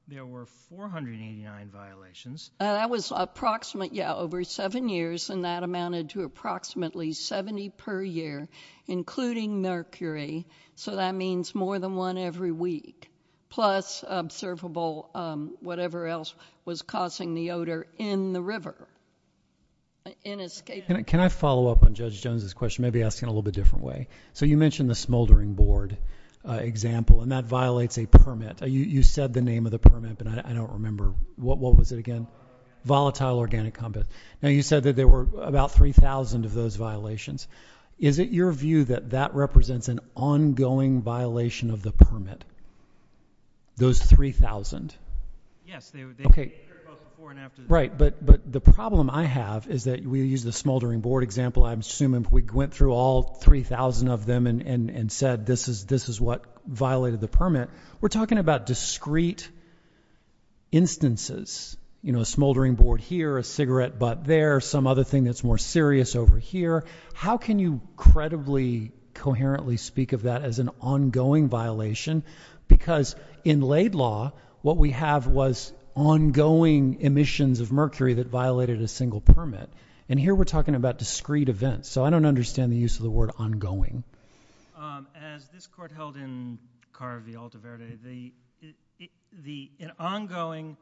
there were 489 violations. That was approximately, yeah, over 7 years and that amounted to approximately 70 per year, including mercury. So that means more than one every week, plus observable whatever else was causing the odor in the river. Can I follow up on Judge Jones's question, maybe ask it in a little bit different way? So you mentioned the smoldering board example and that violates a permit. You said the name of the permit, but I don't remember. What was it again? Volatile organic compound. Now you said that there were about 3,000 of those violations. Is it your view that that represents an ongoing violation of the permit? Those 3,000? Yes. Okay. Before and after. Right, but the problem I have is that we used the smoldering board example. I'm assuming we went through all 3,000 of them and said this is what violated the permit. We're talking about discrete instances. You know, a smoldering board here, a cigarette butt there, some other thing that's more serious over here. How can you credibly, coherently speak of that as an ongoing violation? Because in laid law, what we have was ongoing emissions of mercury that violated a single permit. And here we're talking about discrete events. So I don't understand the use of the word ongoing. As this court held in Carr v. Altaverde, an ongoing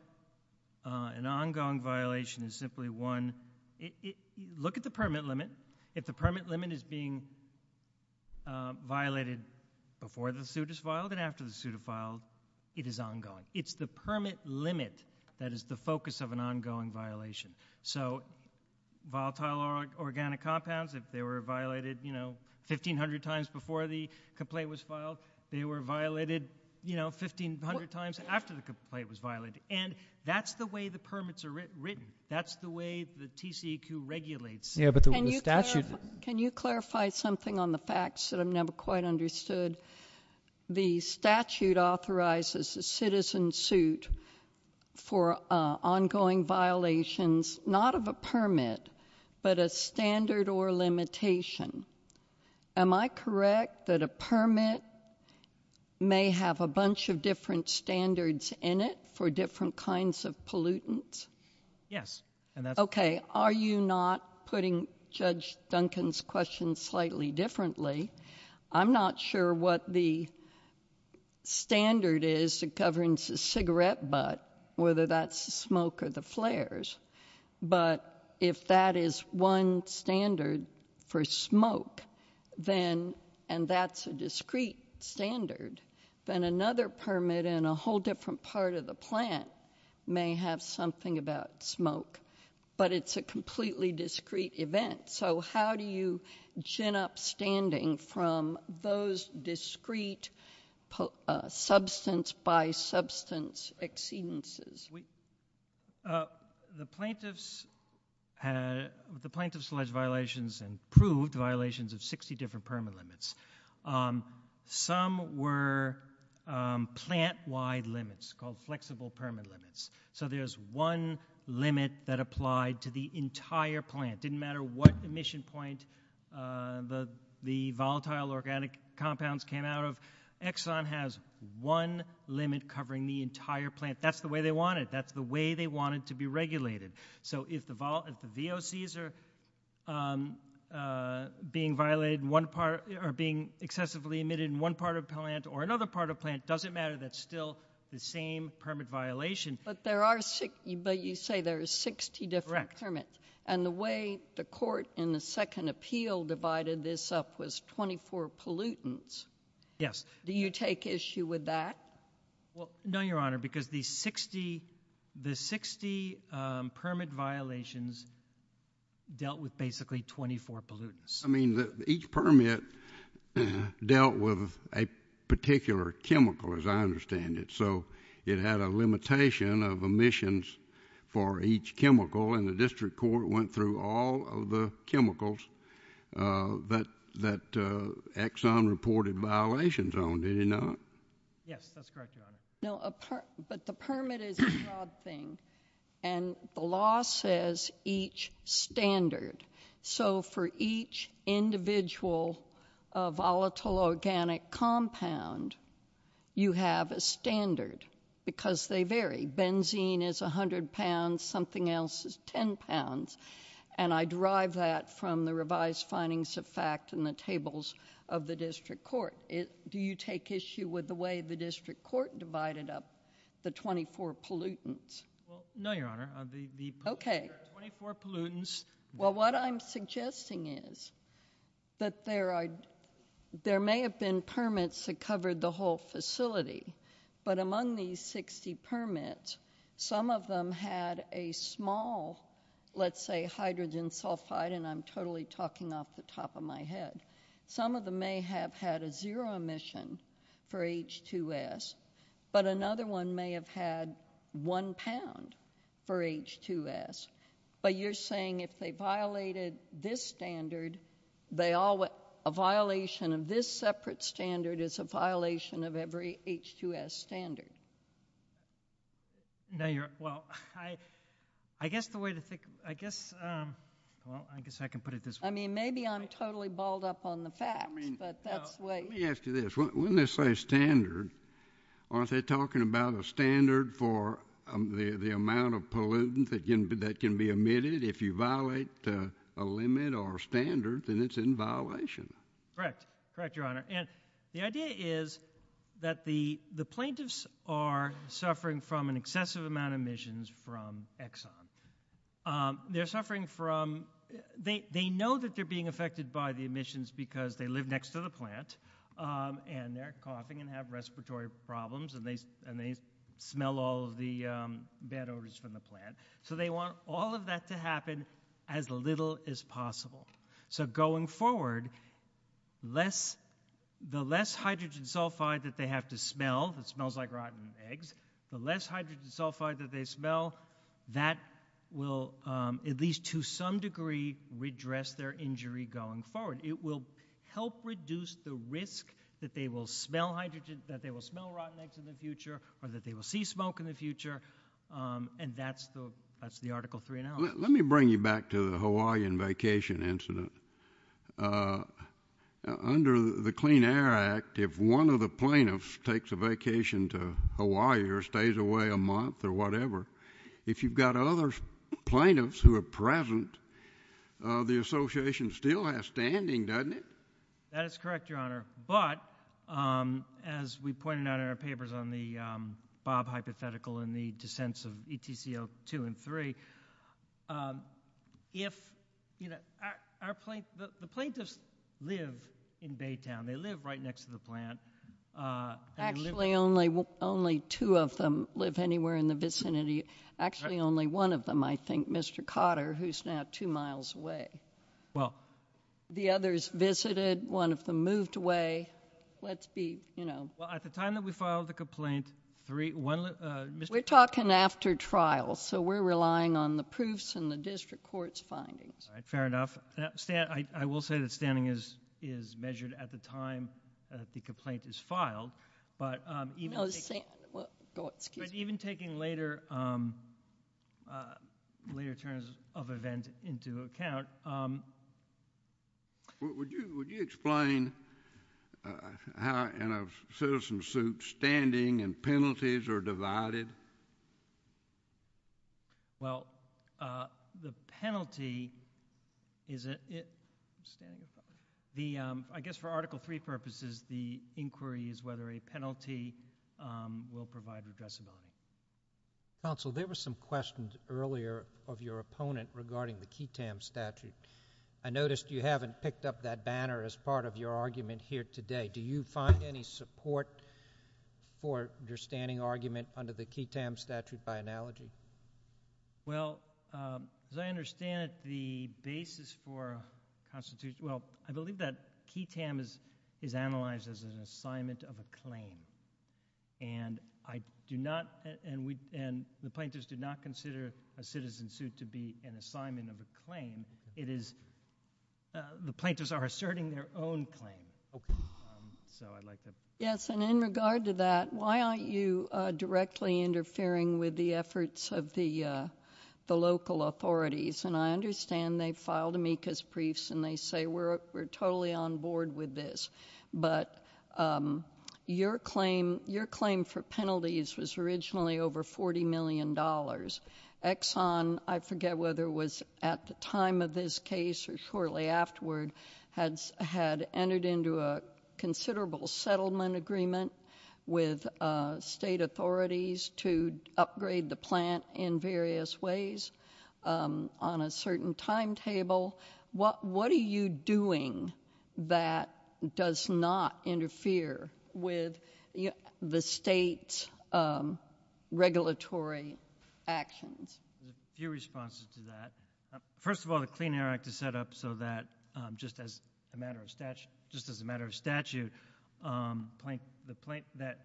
violation is simply one. Look at the permit limit. If the permit limit is being violated before the suit is filed and after the suit is filed, it is ongoing. It's the permit limit that is the focus of an ongoing violation. So volatile organic compounds, if they were violated, you know, 1,500 times before the complaint was filed, they were violated, you know, 1,500 times after the complaint was violated. And that's the way the permits are written. That's the way the TCEQ regulates. Can you clarify something on the facts that I've never quite understood? The statute authorizes a citizen suit for ongoing violations, not of a permit, but a standard or limitation. Am I correct that a permit may have a bunch of different standards in it for different kinds of pollutants? Yes. Are you not putting Judge Duncan's question slightly differently? I'm not sure what the standard is that governs the cigarette butt, whether that's the smoke or the flares. But if that is one standard for smoke, and that's a discrete standard, then another permit in a whole different part of the plant may have something about smoke. But it's a completely discrete event. So how do you gin up standing from those discrete substance-by-substance exceedances? The plaintiffs alleged violations and proved violations of 60 different permit limits. Some were plant-wide limits called flexible permit limits. So there's one limit that applied to the entire plant. It didn't matter what emission point the volatile organic compounds came out of. Exxon has one limit covering the entire plant. That's the way they want it. That's the way they want it to be regulated. So if the VOCs are being excessively emitted in one part of the plant or another part of the plant, it doesn't matter. That's still the same permit violation. But you say there are 60 different permits. And the way the court in the second appeal divided this up was 24 pollutants. Yes. Do you take issue with that? No, Your Honor, because the 60 permit violations dealt with basically 24 pollutants. I mean, each permit dealt with a particular chemical, as I understand it. So it had a limitation of emissions for each chemical, and the district court went through all of the chemicals that Exxon reported violations on. Did it not? Yes, that's correct, Your Honor. No, but the permit is a job thing, and the law says each standard. So for each individual volatile organic compound, you have a standard because they vary. Benzene is 100 pounds, something else is 10 pounds, and I derive that from the revised findings of fact in the tables of the district court. Do you take issue with the way the district court divided up the 24 pollutants? No, Your Honor. Okay. The 24 pollutants. Well, what I'm suggesting is that there may have been permits that covered the whole facility, but among these 60 permits, some of them had a small, let's say, hydrogen sulfide, and I'm totally talking off the top of my head. Some of them may have had a zero emission for H2S, but another one may have had one pound for H2S. But you're saying if they violated this standard, a violation of this separate standard is a violation of every H2S standard? Well, I guess the way to think of it, I guess I can put it this way. I mean, maybe I'm totally balled up on the facts, but that's the way. Let me ask you this. When they say standard, aren't they talking about a standard for the amount of pollutant that can be emitted? If you violate a limit or a standard, then it's in violation. Correct. Correct, Your Honor. And the idea is that the plaintiffs are suffering from an excessive amount of emissions from Exxon. They know that they're being affected by the emissions because they live next to the plant, and they're coughing and have respiratory problems, and they smell all of the bad odors from the plant. So they want all of that to happen as little as possible. So going forward, the less hydrogen sulfide that they have to smell that smells like rotten eggs, the less hydrogen sulfide that they smell, that will at least to some degree redress their injury going forward. It will help reduce the risk that they will smell rotten eggs in the future or that they will see smoke in the future, and that's the Article 3 now. Let me bring you back to the Hawaiian vacation incident. Under the Clean Air Act, if one of the plaintiffs takes a vacation to Hawaii or stays away a month or whatever, if you've got other plaintiffs who are present, the association still has standing, doesn't it? That is correct, Your Honor. But as we pointed out in our papers on the Bob hypothetical and the descents of ETC02 and ETC03, the plaintiffs live in Baytown. They live right next to the plant. Actually, only two of them live anywhere in the vicinity. Actually, only one of them, I think, Mr. Cotter, who's now two miles away. The others visited. One of them moved away. Let's be, you know. Well, at the time that we filed the complaint, one of the Mrs. We're talking after trial, so we're relying on the proofs and the district court's findings. All right. Fair enough. I will say that standing is measured at the time that the complaint is filed. Oh, excuse me. Even taking later terms of event into account. Would you explain how in a citizen suit standing and penalties are divided? Well, the penalty is, I guess, for Article III purposes, the inquiry is whether a penalty will provide the justice. Counsel, there were some questions earlier of your opponent regarding the QTAM statute. I noticed you haven't picked up that banner as part of your argument here today. Do you find any support for your standing argument under the QTAM statute by analogy? Well, as I understand it, the basis for a constitution, well, I believe that QTAM is analyzed as an assignment of a claim. And I do not, and the plaintiffs do not consider a citizen suit to be an assignment of a claim. The plaintiffs are asserting their own claim. Yes, and in regard to that, why aren't you directly interfering with the efforts of the local authorities? And I understand they filed amicus briefs and they say we're totally on board with this. But your claim for penalties was originally over $40 million. Exxon, I forget whether it was at the time of his case or shortly afterward, had entered into a considerable settlement agreement with state authorities to upgrade the plant in various ways on a certain timetable. What are you doing that does not interfere with the state's regulatory actions? A few responses to that. First of all, the Clean Air Act is set up so that just as a matter of statute, that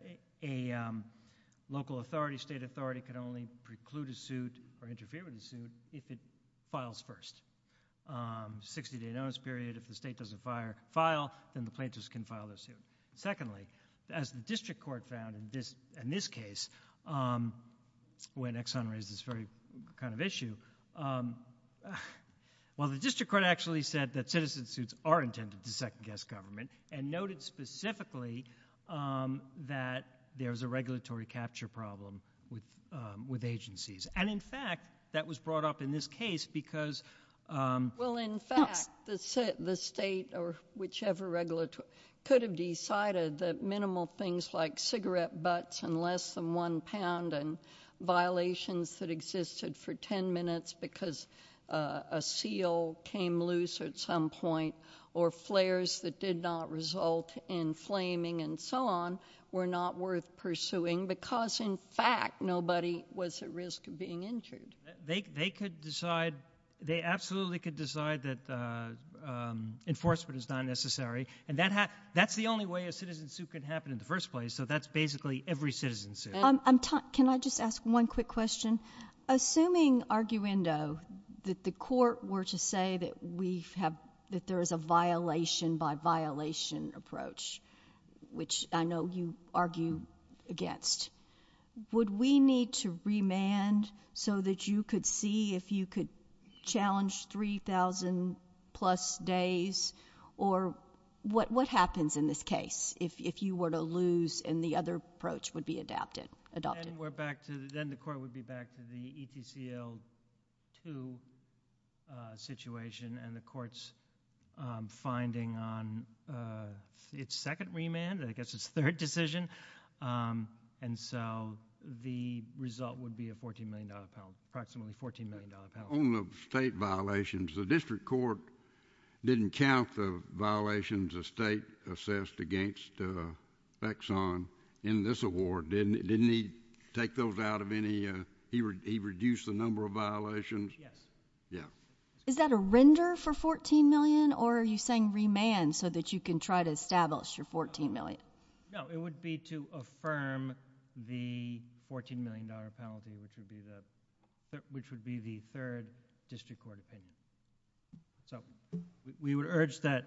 a local authority, state authority, can only preclude a suit or interfere with a suit if it files first. 60-day notice period, if the state doesn't file, then the plaintiffs can file a suit. Secondly, as the district court found in this case, when Exxon raised this very kind of issue, well, the district court actually said that citizen suits are intended to second-guess government and noted specifically that there's a regulatory capture problem with agencies. And, in fact, that was brought up in this case because – Well, in fact, the state or whichever regulatory – could have decided that minimal things like cigarette butts and less than one pound and violations that existed for 10 minutes because a seal came loose at some point or flares that did not result in flaming and so on were not worth pursuing because, in fact, nobody was at risk of being injured. They could decide – they absolutely could decide that enforcement is not necessary. And that's the only way a citizen suit could happen in the first place. So that's basically every citizen suit. Can I just ask one quick question? Assuming, arguendo, that the court were to say that we have – that there is a violation-by-violation approach, which I know you argue against, would we need to remand so that you could see if you could challenge 3,000-plus days? Or what happens in this case if you were to lose and the other approach would be adopted? Then we're back to – then the court would be back to the ECCL2 situation and the court's finding on its second remand, I guess its third decision. And so the result would be approximately $14 million pounds. On the state violations, the district court didn't count the violations of state assessed against Exxon in this award. Didn't he take those out of any – he reduced the number of violations? Yes. Yeah. Is that a render for $14 million, or are you saying remand so that you can try to establish your $14 million? No, it would be to affirm the $14 million penalty, which would be the third district court opinion. So we would urge that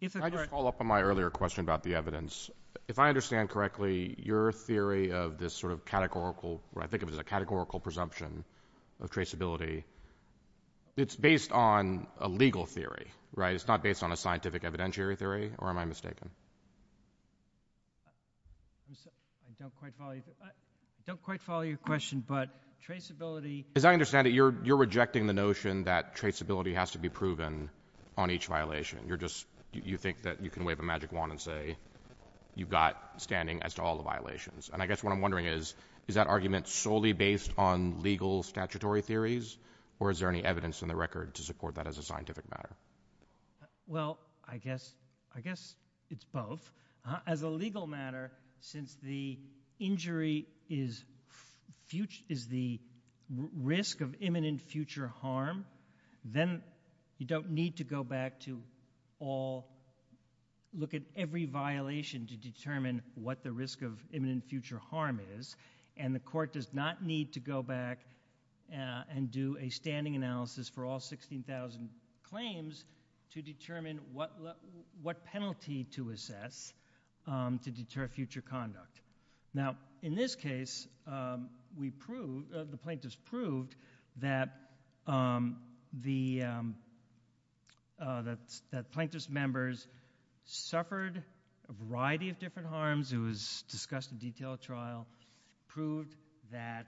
if a – Can I just follow up on my earlier question about the evidence? If I understand correctly, your theory of this sort of categorical – I think of it as a categorical presumption of traceability, it's based on a legal theory, right? It's not based on a scientific evidentiary theory, or am I mistaken? I don't quite follow you. I don't quite follow your question, but traceability – As I understand it, you're rejecting the notion that traceability has to be proven on each violation. You're just – you think that you can wave a magic wand and say you've got standing as to all the violations. And I guess what I'm wondering is, is that argument solely based on legal statutory theories, or is there any evidence in the record to support that as a scientific matter? Well, I guess it's both. As a legal matter, since the injury is the risk of imminent future harm, then you don't need to go back to all – look at every violation to determine what the risk of imminent future harm is, and the court does not need to go back and do a standing analysis for all 16,000 claims to determine what penalty to assess to deter future conduct. Now, in this case, we proved, the plaintiffs proved, that the plaintiffs' members suffered a variety of different harms. It was discussed in detail at trial. The plaintiffs proved that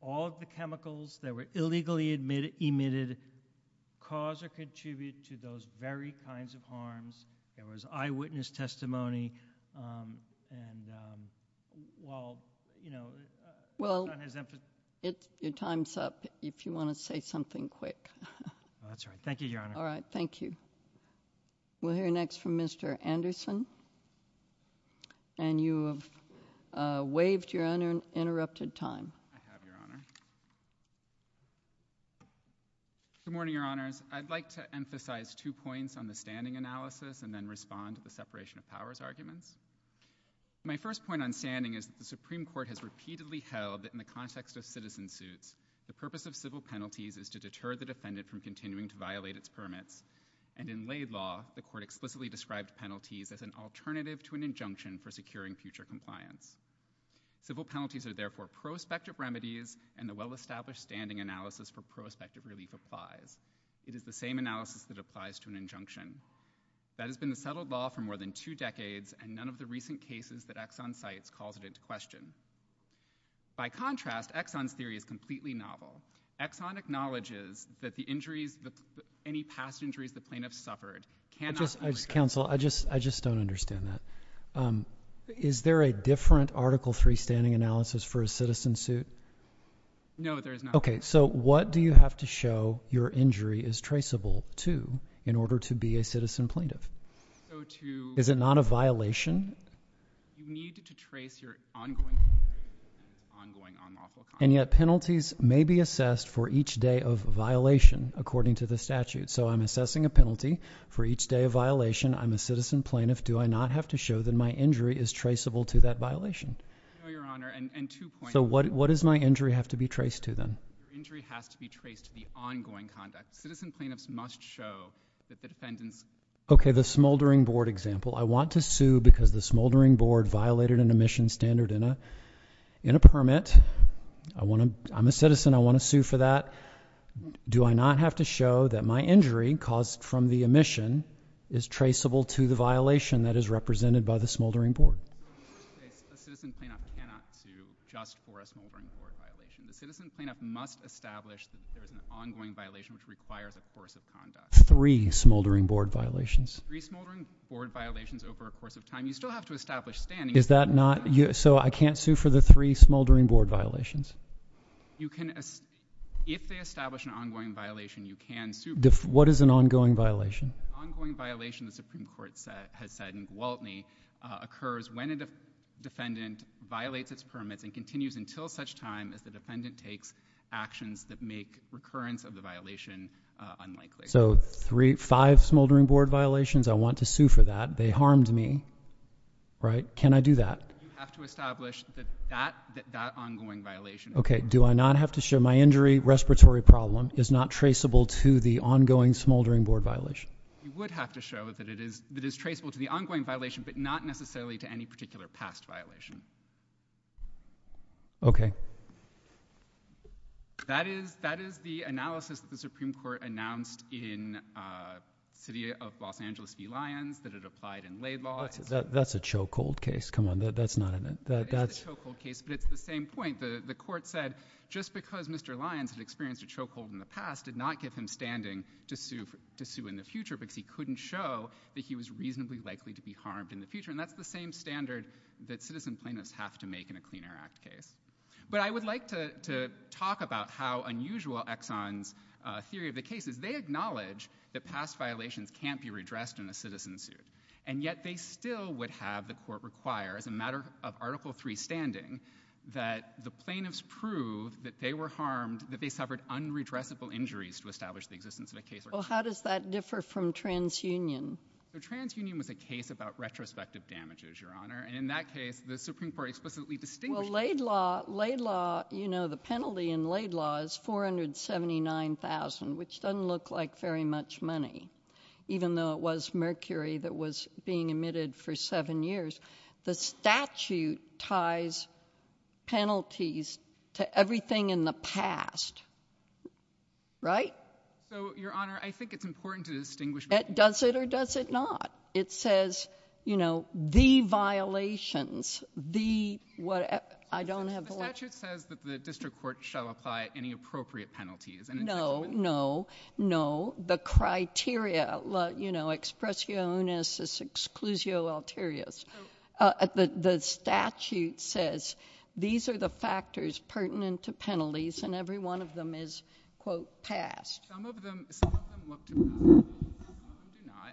all of the chemicals that were illegally emitted cause or contribute to those very kinds of harms. There was eyewitness testimony. Well, your time's up, if you want to say something quick. That's all right. Thank you, Your Honor. All right, thank you. We'll hear next from Mr. Anderson. And you have waived your uninterrupted time. Good morning, Your Honor. I'd like to emphasize two points on the standing analysis and then respond to the separation of powers argument. My first point on standing is that the Supreme Court has repeatedly held that in the context of citizen suits, the purpose of civil penalties is to deter the defendant from continuing to violate its permit, and in laid law, the court explicitly described penalties as an alternative to an injunction for securing future compliance. Civil penalties are therefore prospective remedies, and the well-established standing analysis for prospective relief applies. It is the same analysis that applies to an injunction. That has been the settled law for more than two decades, and none of the recent cases that Exxon cites calls it into question. By contrast, Exxon's theory is completely novel. Exxon acknowledges that the injuries, any past injuries the plaintiff suffered cannot be... Counsel, I just don't understand that. Is there a different Article III standing analysis for a citizen suit? No, there is not. Okay, so what do you have to show your injury is traceable to in order to be a citizen plaintiff? So to... Is it not a violation? You need to trace your ongoing... And yet penalties may be assessed for each day of violation according to the statute. So I'm assessing a penalty for each day of violation. I'm a citizen plaintiff. Do I not have to show that my injury is traceable to that violation? No, Your Honor, and two points... So what does my injury have to be traced to then? Your injury has to be traced to the ongoing conduct. Citizen plaintiffs must show that the defendant... Okay, the smoldering board example. I want to sue because the smoldering board violated an emission standard in a permit. I'm a citizen. I want to sue for that. Do I not have to show that my injury caused from the emission is traceable to the violation that is represented by the smoldering board? The citizen plaintiff cannot sue just for a smoldering board violation. The citizen plaintiff must establish that there is an ongoing violation which requires a course of conduct. Three smoldering board violations. Three smoldering board violations over a course of time. You still have to establish standing... Is that not... so I can't sue for the three smoldering board violations? You can... if they establish an ongoing violation, you can sue. What is an ongoing violation? Ongoing violation, the Supreme Court has said in Gwaltney, occurs when a defendant violates this permit and continues until such time as the defendant takes actions that make recurrence of the violation unlikely. So five smoldering board violations, I want to sue for that. They harmed me, right? Can I do that? You have to establish that that ongoing violation... Okay. Do I not have to show my injury respiratory problem is not traceable to the ongoing smoldering board violation? You would have to show that it is traceable to the ongoing violation, but not necessarily to any particular past violation. Okay. That is the analysis that the Supreme Court announced in City of Los Angeles v. Lyons that it applied in Laidlaw... That's a chokehold case. Come on. That's not... That's a chokehold case, but it's the same point. The court said just because Mr. Lyons had experienced a chokehold in the past did not get him standing to sue in the future because he couldn't show that he was reasonably likely to be harmed in the future, and that's the same standard that citizen plaintiffs have to make in a Clean Air Act case. But, I would like to talk about how unusual Exxon's theory of the case is. They acknowledge that past violations can't be redressed in a citizen suit, and yet they still would have the court require, as a matter of Article III standing, that the plaintiffs prove that they were harmed, that they suffered unredressable injuries to establish the existence of the case. Well, how does that differ from TransUnion? So, TransUnion was a case about retrospective damages, Your Honor, and in that case the Supreme Court explicitly distinguished... Well, Laidlaw... Laidlaw... You know, the penalty in Laidlaw is $479,000, which doesn't look like very much money, even though it was mercury that was being emitted for seven years. The statute ties penalties to everything in the past, right? So, Your Honor, I think it's important to distinguish... Does it or does it not? It says, you know, the violations, the... I don't have... The statute says that the district court shall apply any appropriate penalties. No, no, no. The criteria, you know, expressionis exclusio alterius. The statute says these are the factors pertinent to penalties, and every one of them is, quote, passed. Some of them...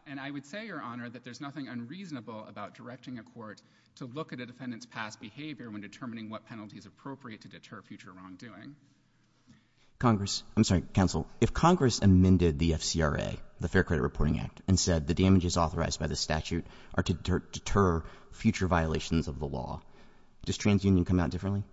and I would say, Your Honor, that there's nothing unreasonable about directing a court to look at a defendant's past behavior when determining what penalty is appropriate to deter future wrongdoing. Congress... I'm sorry, counsel. If Congress amended the FCRA, the Fair Credit Reporting Act, and said the damages authorized by the statute are to deter future violations of the law, does TransUnion come out differently?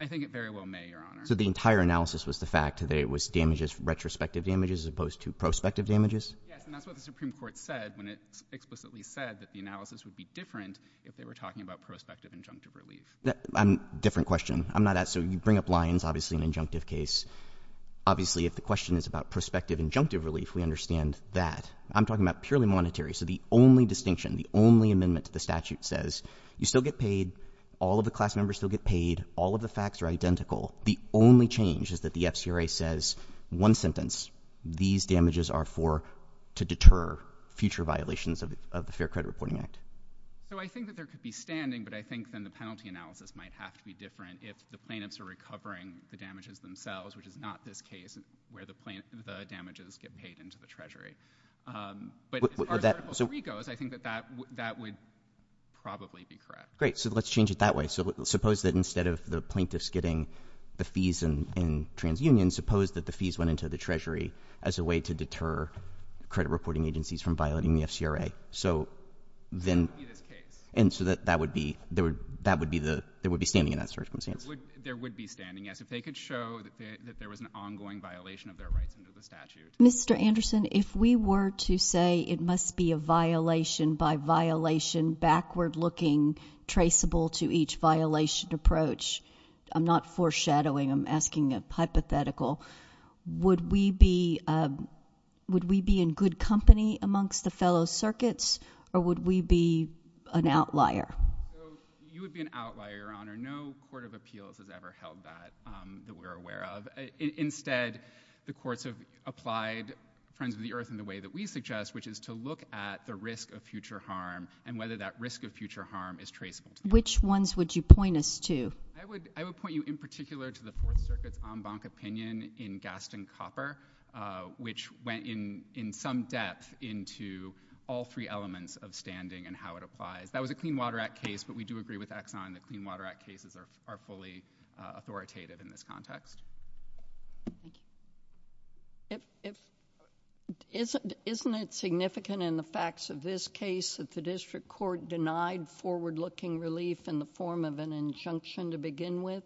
I think it very well may, Your Honor. So the entire analysis was the fact that it was damages, retrospective damages, as opposed to prospective damages? Yes, and that's what the Supreme Court said when it explicitly said that the analysis would be different if they were talking about prospective injunctive relief. I'm... different question. I'm not... so you bring up Lyons, obviously an injunctive case. Obviously, if the question is about prospective injunctive relief, we understand that. I'm talking about purely monetary, so the only distinction, the only amendment to the statute says you still get paid, all of the class members still get paid, all of the facts are identical. The only change is that the FCRA says one sentence, these damages are for... to deter future violations of the Fair Credit Reporting Act. So I think that there could be standing, but I think then the penalty analysis might have to be different if the plaintiffs are recovering the damages themselves, which is not this case where the damages get paid into the Treasury. But as far as the legal degree goes, I think that that would probably be correct. Great, so let's change it that way. Suppose that instead of the plaintiffs getting the fees in transunion, suppose that the fees went into the Treasury as a way to deter credit reporting agencies from violating the FCRA. So then... That would be this case. And so that would be... there would be standing in that circumstance. There would be standing, yes. If they could show that there was an ongoing violation of their rights under the statute. Mr. Anderson, if we were to say it must be a violation by violation, backward-looking, traceable to each violation approach... I'm not foreshadowing, I'm asking a hypothetical. Would we be in good company amongst the fellow circuits, or would we be an outlier? You would be an outlier, Your Honor. No court of appeals has ever held that that we're aware of. Instead, the courts have applied Friends of the Earth in the way that we suggest, which is to look at the risk of future harm and whether that risk of future harm is traceable. Which ones would you point us to? I would point you, in particular, to the Fourth Circuit's en banc opinion in Gaston Copper, which went in some depth into all three elements of standing and how it applies. That was a Clean Water Act case, but we do agree with Exxon that Clean Water Act cases are fully authoritative in this context. Isn't it significant in the facts of this case that the district court denied forward-looking relief in the form of an injunction to begin with?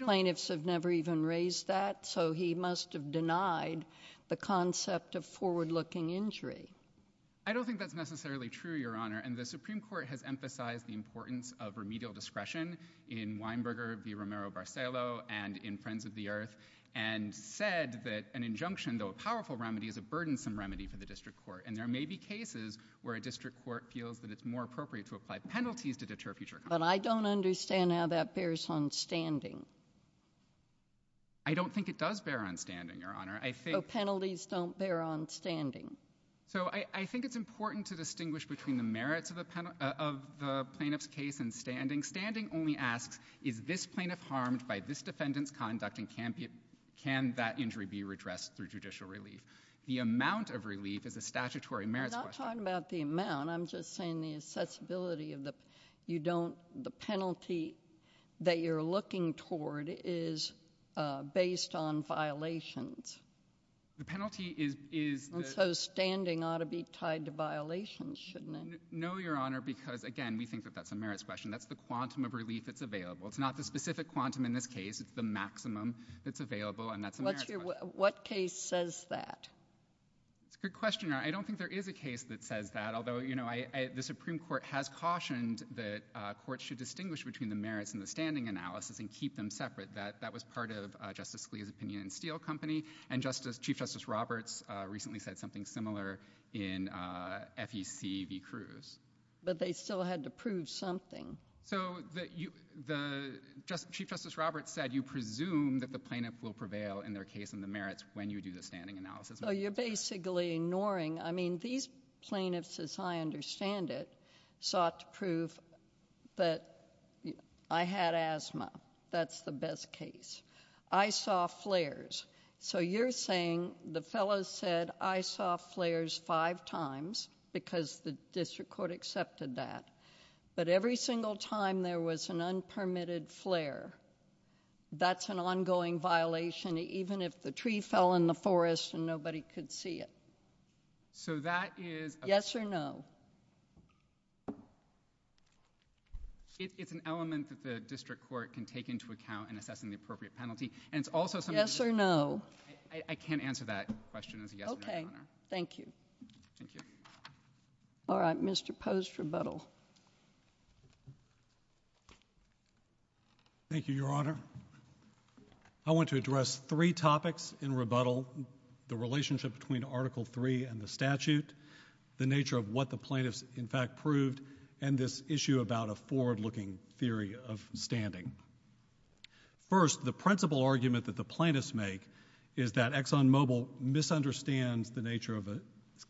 Plaintiffs have never even raised that, so he must have denied the concept of forward-looking injury. I don't think that's necessarily true, Your Honor. And the Supreme Court has emphasized the importance of remedial discretion in Weinberger v. Romero-Barcello and in Friends of the Earth and said that an injunction, though a powerful remedy, is a burdensome remedy for the district court. And there may be cases where a district court feels that it's more appropriate to apply penalties to deter future harm. But I don't understand how that bears on standing. I don't think it does bear on standing, Your Honor. So penalties don't bear on standing. So I think it's important to distinguish between the merits of the plaintiff's case and standing. Standing only asks, is this plaintiff harmed by this defendant's conduct, and can that injury be redressed through judicial relief? The amount of relief is a statutory merit question. I'm not talking about the amount. I'm just saying the accessibility of the penalty that you're looking toward is based on violations. So standing ought to be tied to violations, shouldn't it? No, Your Honor, because, again, we think that that's a merits question. That's the quantum of relief that's available. It's not the specific quantum in this case. It's the maximum that's available, and that's a merits question. What case says that? Good question, Your Honor. I don't think there is a case that says that, although the Supreme Court has cautioned that courts should distinguish between the merits and the standing analysis and keep them separate. That was part of Justice Scalia's opinion in Steel Company, and Chief Justice Roberts recently said something similar in FEC v. Cruz. But they still had to prove something. Chief Justice Roberts said you presume that the plaintiff will prevail in their case in the merits when you do the standing analysis. So you're basically ignoring—I mean, these plaintiffs, as I understand it, sought to prove that I had asthma. That's the best case. I saw flares. So you're saying the fellow said, I saw flares five times because the district court accepted that. But every single time there was an unpermitted flare, that's an ongoing violation. Even if the tree fell in the forest and nobody could see it. So that is— Yes or no? It's an element that the district court can take into account in assessing the appropriate penalty. And it's also— Yes or no? I can't answer that question. Okay. Thank you. Thank you. All right. Mr. Post, rebuttal. Thank you, Your Honor. I want to address three topics in rebuttal. The relationship between Article III and the statute, the nature of what the plaintiffs, in fact, proved, and this issue about a forward-looking theory of standing. First, the principal argument that the plaintiffs make is that ExxonMobil misunderstands the nature of a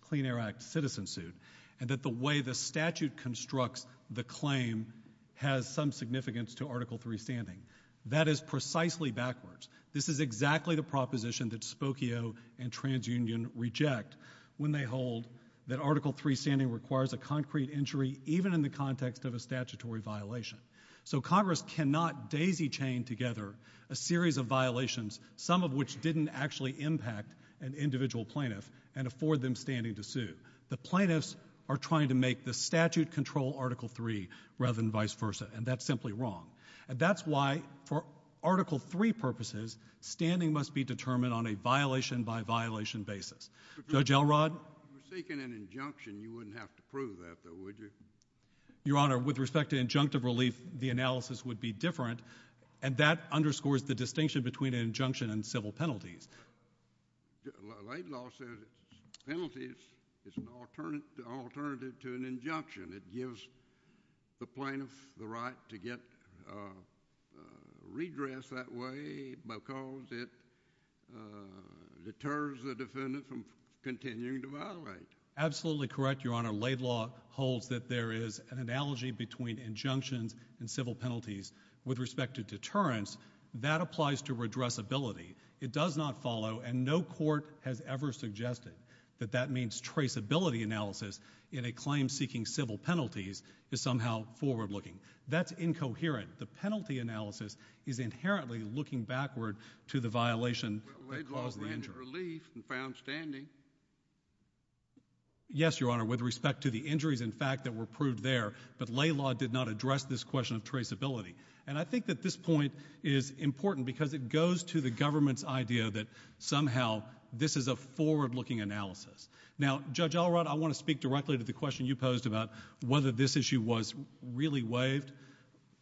Clean Air Act citizen suit and that the way the statute constructs the claim has some significance to Article III standing. That is precisely backwards. This is exactly the proposition that Spokio and TransUnion reject when they hold that Article III standing requires a concrete injury, even in the context of a statutory violation. So Congress cannot daisy-chain together a series of violations, some of which didn't actually impact an individual plaintiff, and afford them standing to sue. The plaintiffs are trying to make the statute control Article III rather than vice versa, and that's simply wrong. And that's why, for Article III purposes, standing must be determined on a violation-by-violation basis. Judge Elrod? I'm thinking an injunction. You wouldn't have to prove that, though, would you? Your Honor, with respect to injunctive relief, the analysis would be different, and that underscores the distinction between an injunction and civil penalties. Laidlaw said penalties is an alternative to an injunction. It gives the plaintiff the right to get redress that way because it deters the defendant from continuing to violate. Absolutely correct, Your Honor. Laidlaw holds that there is an analogy between injunctions and civil penalties. With respect to deterrence, that applies to redressability. It does not follow, and no court has ever suggested that that means traceability analysis in a claim seeking civil penalties is somehow forward-looking. That's incoherent. The penalty analysis is inherently looking backward to the violation that caused the injury. But Laidlaw landed relief and found standing. Yes, Your Honor, with respect to the injuries, in fact, that were proved there, but Laidlaw did not address this question of traceability. And I think that this point is important because it goes to the government's idea that somehow this is a forward-looking analysis. Now, Judge Elrod, I want to speak directly to the question you posed about whether this issue was really waived.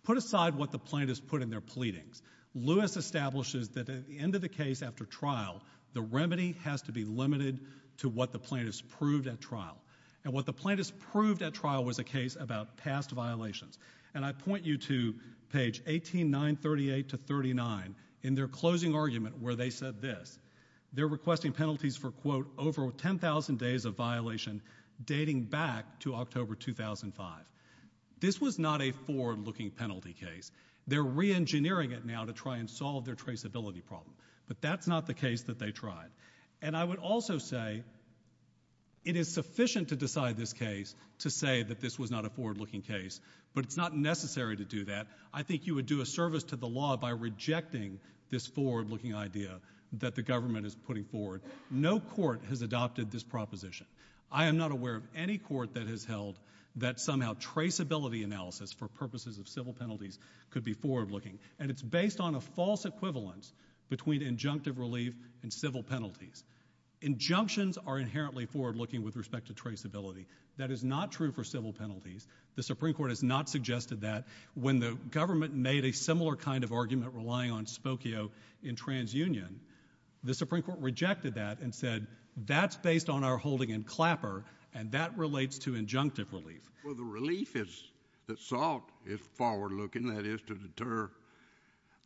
Put aside what the plaintiffs put in their pleadings. Lewis established that at the end of the case after trial, the remedy has to be limited to what the plaintiffs proved at trial. And what the plaintiffs proved at trial was a case about past violations. And I point you to page 18938-39 in their closing argument where they said this. They're requesting penalties for, quote, over 10,000 days of violation dating back to October 2005. This was not a forward-looking penalty case. They're reengineering it now to try and solve their traceability problem. But that's not the case that they tried. And I would also say it is sufficient to decide this case to say that this was not a forward-looking case. But it's not necessary to do that. I think you would do a service to the law by rejecting this forward-looking idea that the government is putting forward. No court has adopted this proposition. I am not aware of any court that has held that somehow traceability analysis for purposes of civil penalties could be forward-looking. And it's based on a false equivalence between injunctive relief and civil penalties. Injunctions are inherently forward-looking with respect to traceability. That is not true for civil penalties. The Supreme Court has not suggested that. When the government made a similar kind of argument relying on Spokio in TransUnion, the Supreme Court rejected that and said that's based on our holding in Clapper, and that relates to injunctive relief. Well, the relief is that SALT is forward-looking. That is to deter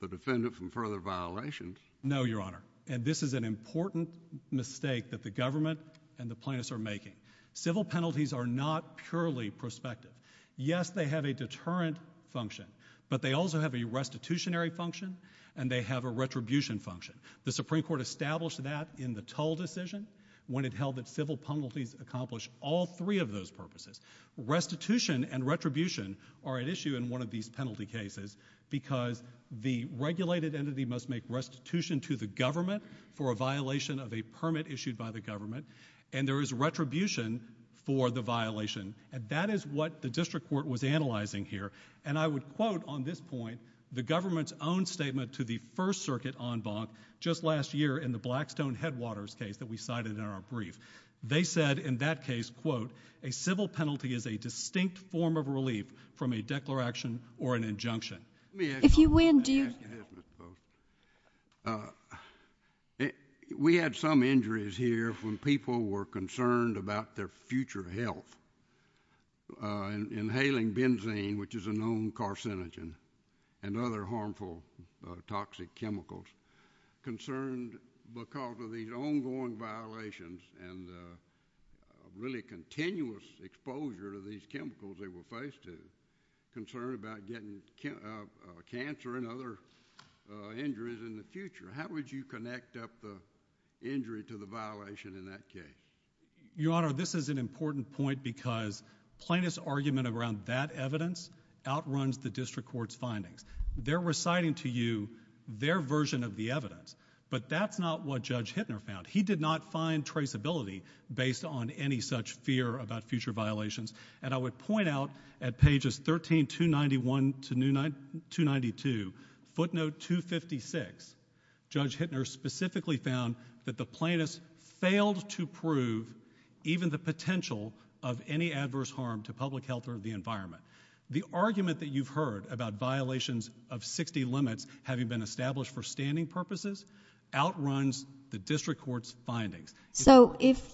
the defendant from further violations. No, Your Honor. And this is an important mistake that the government and the plaintiffs are making. Civil penalties are not purely prospective. Yes, they have a deterrent function, but they also have a restitutionary function and they have a retribution function. The Supreme Court established that in the Tull decision when it held that civil penalties accomplish all three of those purposes. Restitution and retribution are at issue in one of these penalty cases because the regulated entity must make restitution to the government for a violation of a permit issued by the government, and there is retribution for the violation. And that is what the district court was analyzing here. And I would quote on this point the government's own statement to the First Circuit en banc just last year in the Blackstone-Headwaters case that we cited in our brief. They said in that case, quote, a civil penalty is a distinct form of relief from a declaration or an injunction. Let me ask you this, Mr. Spokio. We had some injuries here when people were concerned about their future health, inhaling benzene, which is a known carcinogen, and other harmful toxic chemicals, concerned because of these ongoing violations and the really continuous exposure to these chemicals they were faced with, concern about getting cancer and other injuries in the future. How would you connect up the injury to the violation in that case? Your Honor, this is an important point because plaintiff's argument around that evidence outruns the district court's findings. They're reciting to you their version of the evidence, but that's not what Judge Hittner found. He did not find traceability based on any such fear about future violations. And I would point out at pages 13291 to 292, footnote 256, Judge Hittner specifically found that the plaintiff failed to prove even the potential of any adverse harm to public health or the environment. The argument that you've heard about violations of 60 limits having been established for standing purposes outruns the district court's findings. So if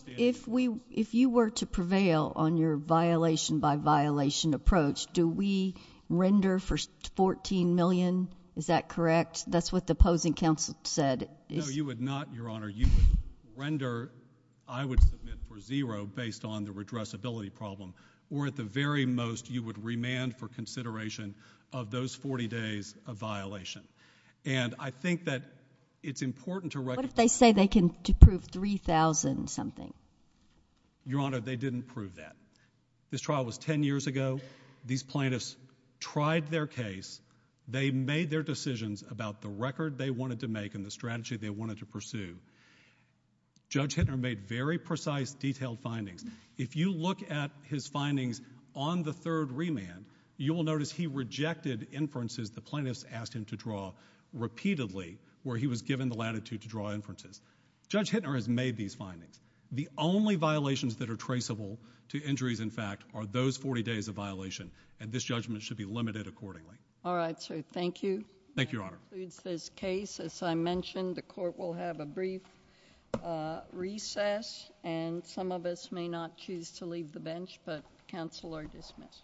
you were to prevail on your violation-by-violation approach, do we render for $14 million? Is that correct? That's what the opposing counsel said. No, you would not, Your Honor. You would render, I would submit, for zero based on the redressability problem, or at the very most you would remand for consideration of those 40 days of violation. And I think that it's important to recognize What if they say they can prove $3,000-something? Your Honor, they didn't prove that. This trial was 10 years ago. These plaintiffs tried their case. They made their decisions about the record they wanted to make and the strategy they wanted to pursue. Judge Hittner made very precise, detailed findings. If you look at his findings on the third remand, you will notice he rejected inferences the plaintiffs asked him to draw repeatedly where he was given the latitude to draw inferences. Judge Hittner has made these findings. The only violations that are traceable to injuries, in fact, are those 40 days of violation, and this judgment should be limited accordingly. All right, so thank you. Thank you, Your Honor. This case, as I mentioned, the court will have a brief recess, and some of us may not choose to leave the bench, but counsel are dismissed.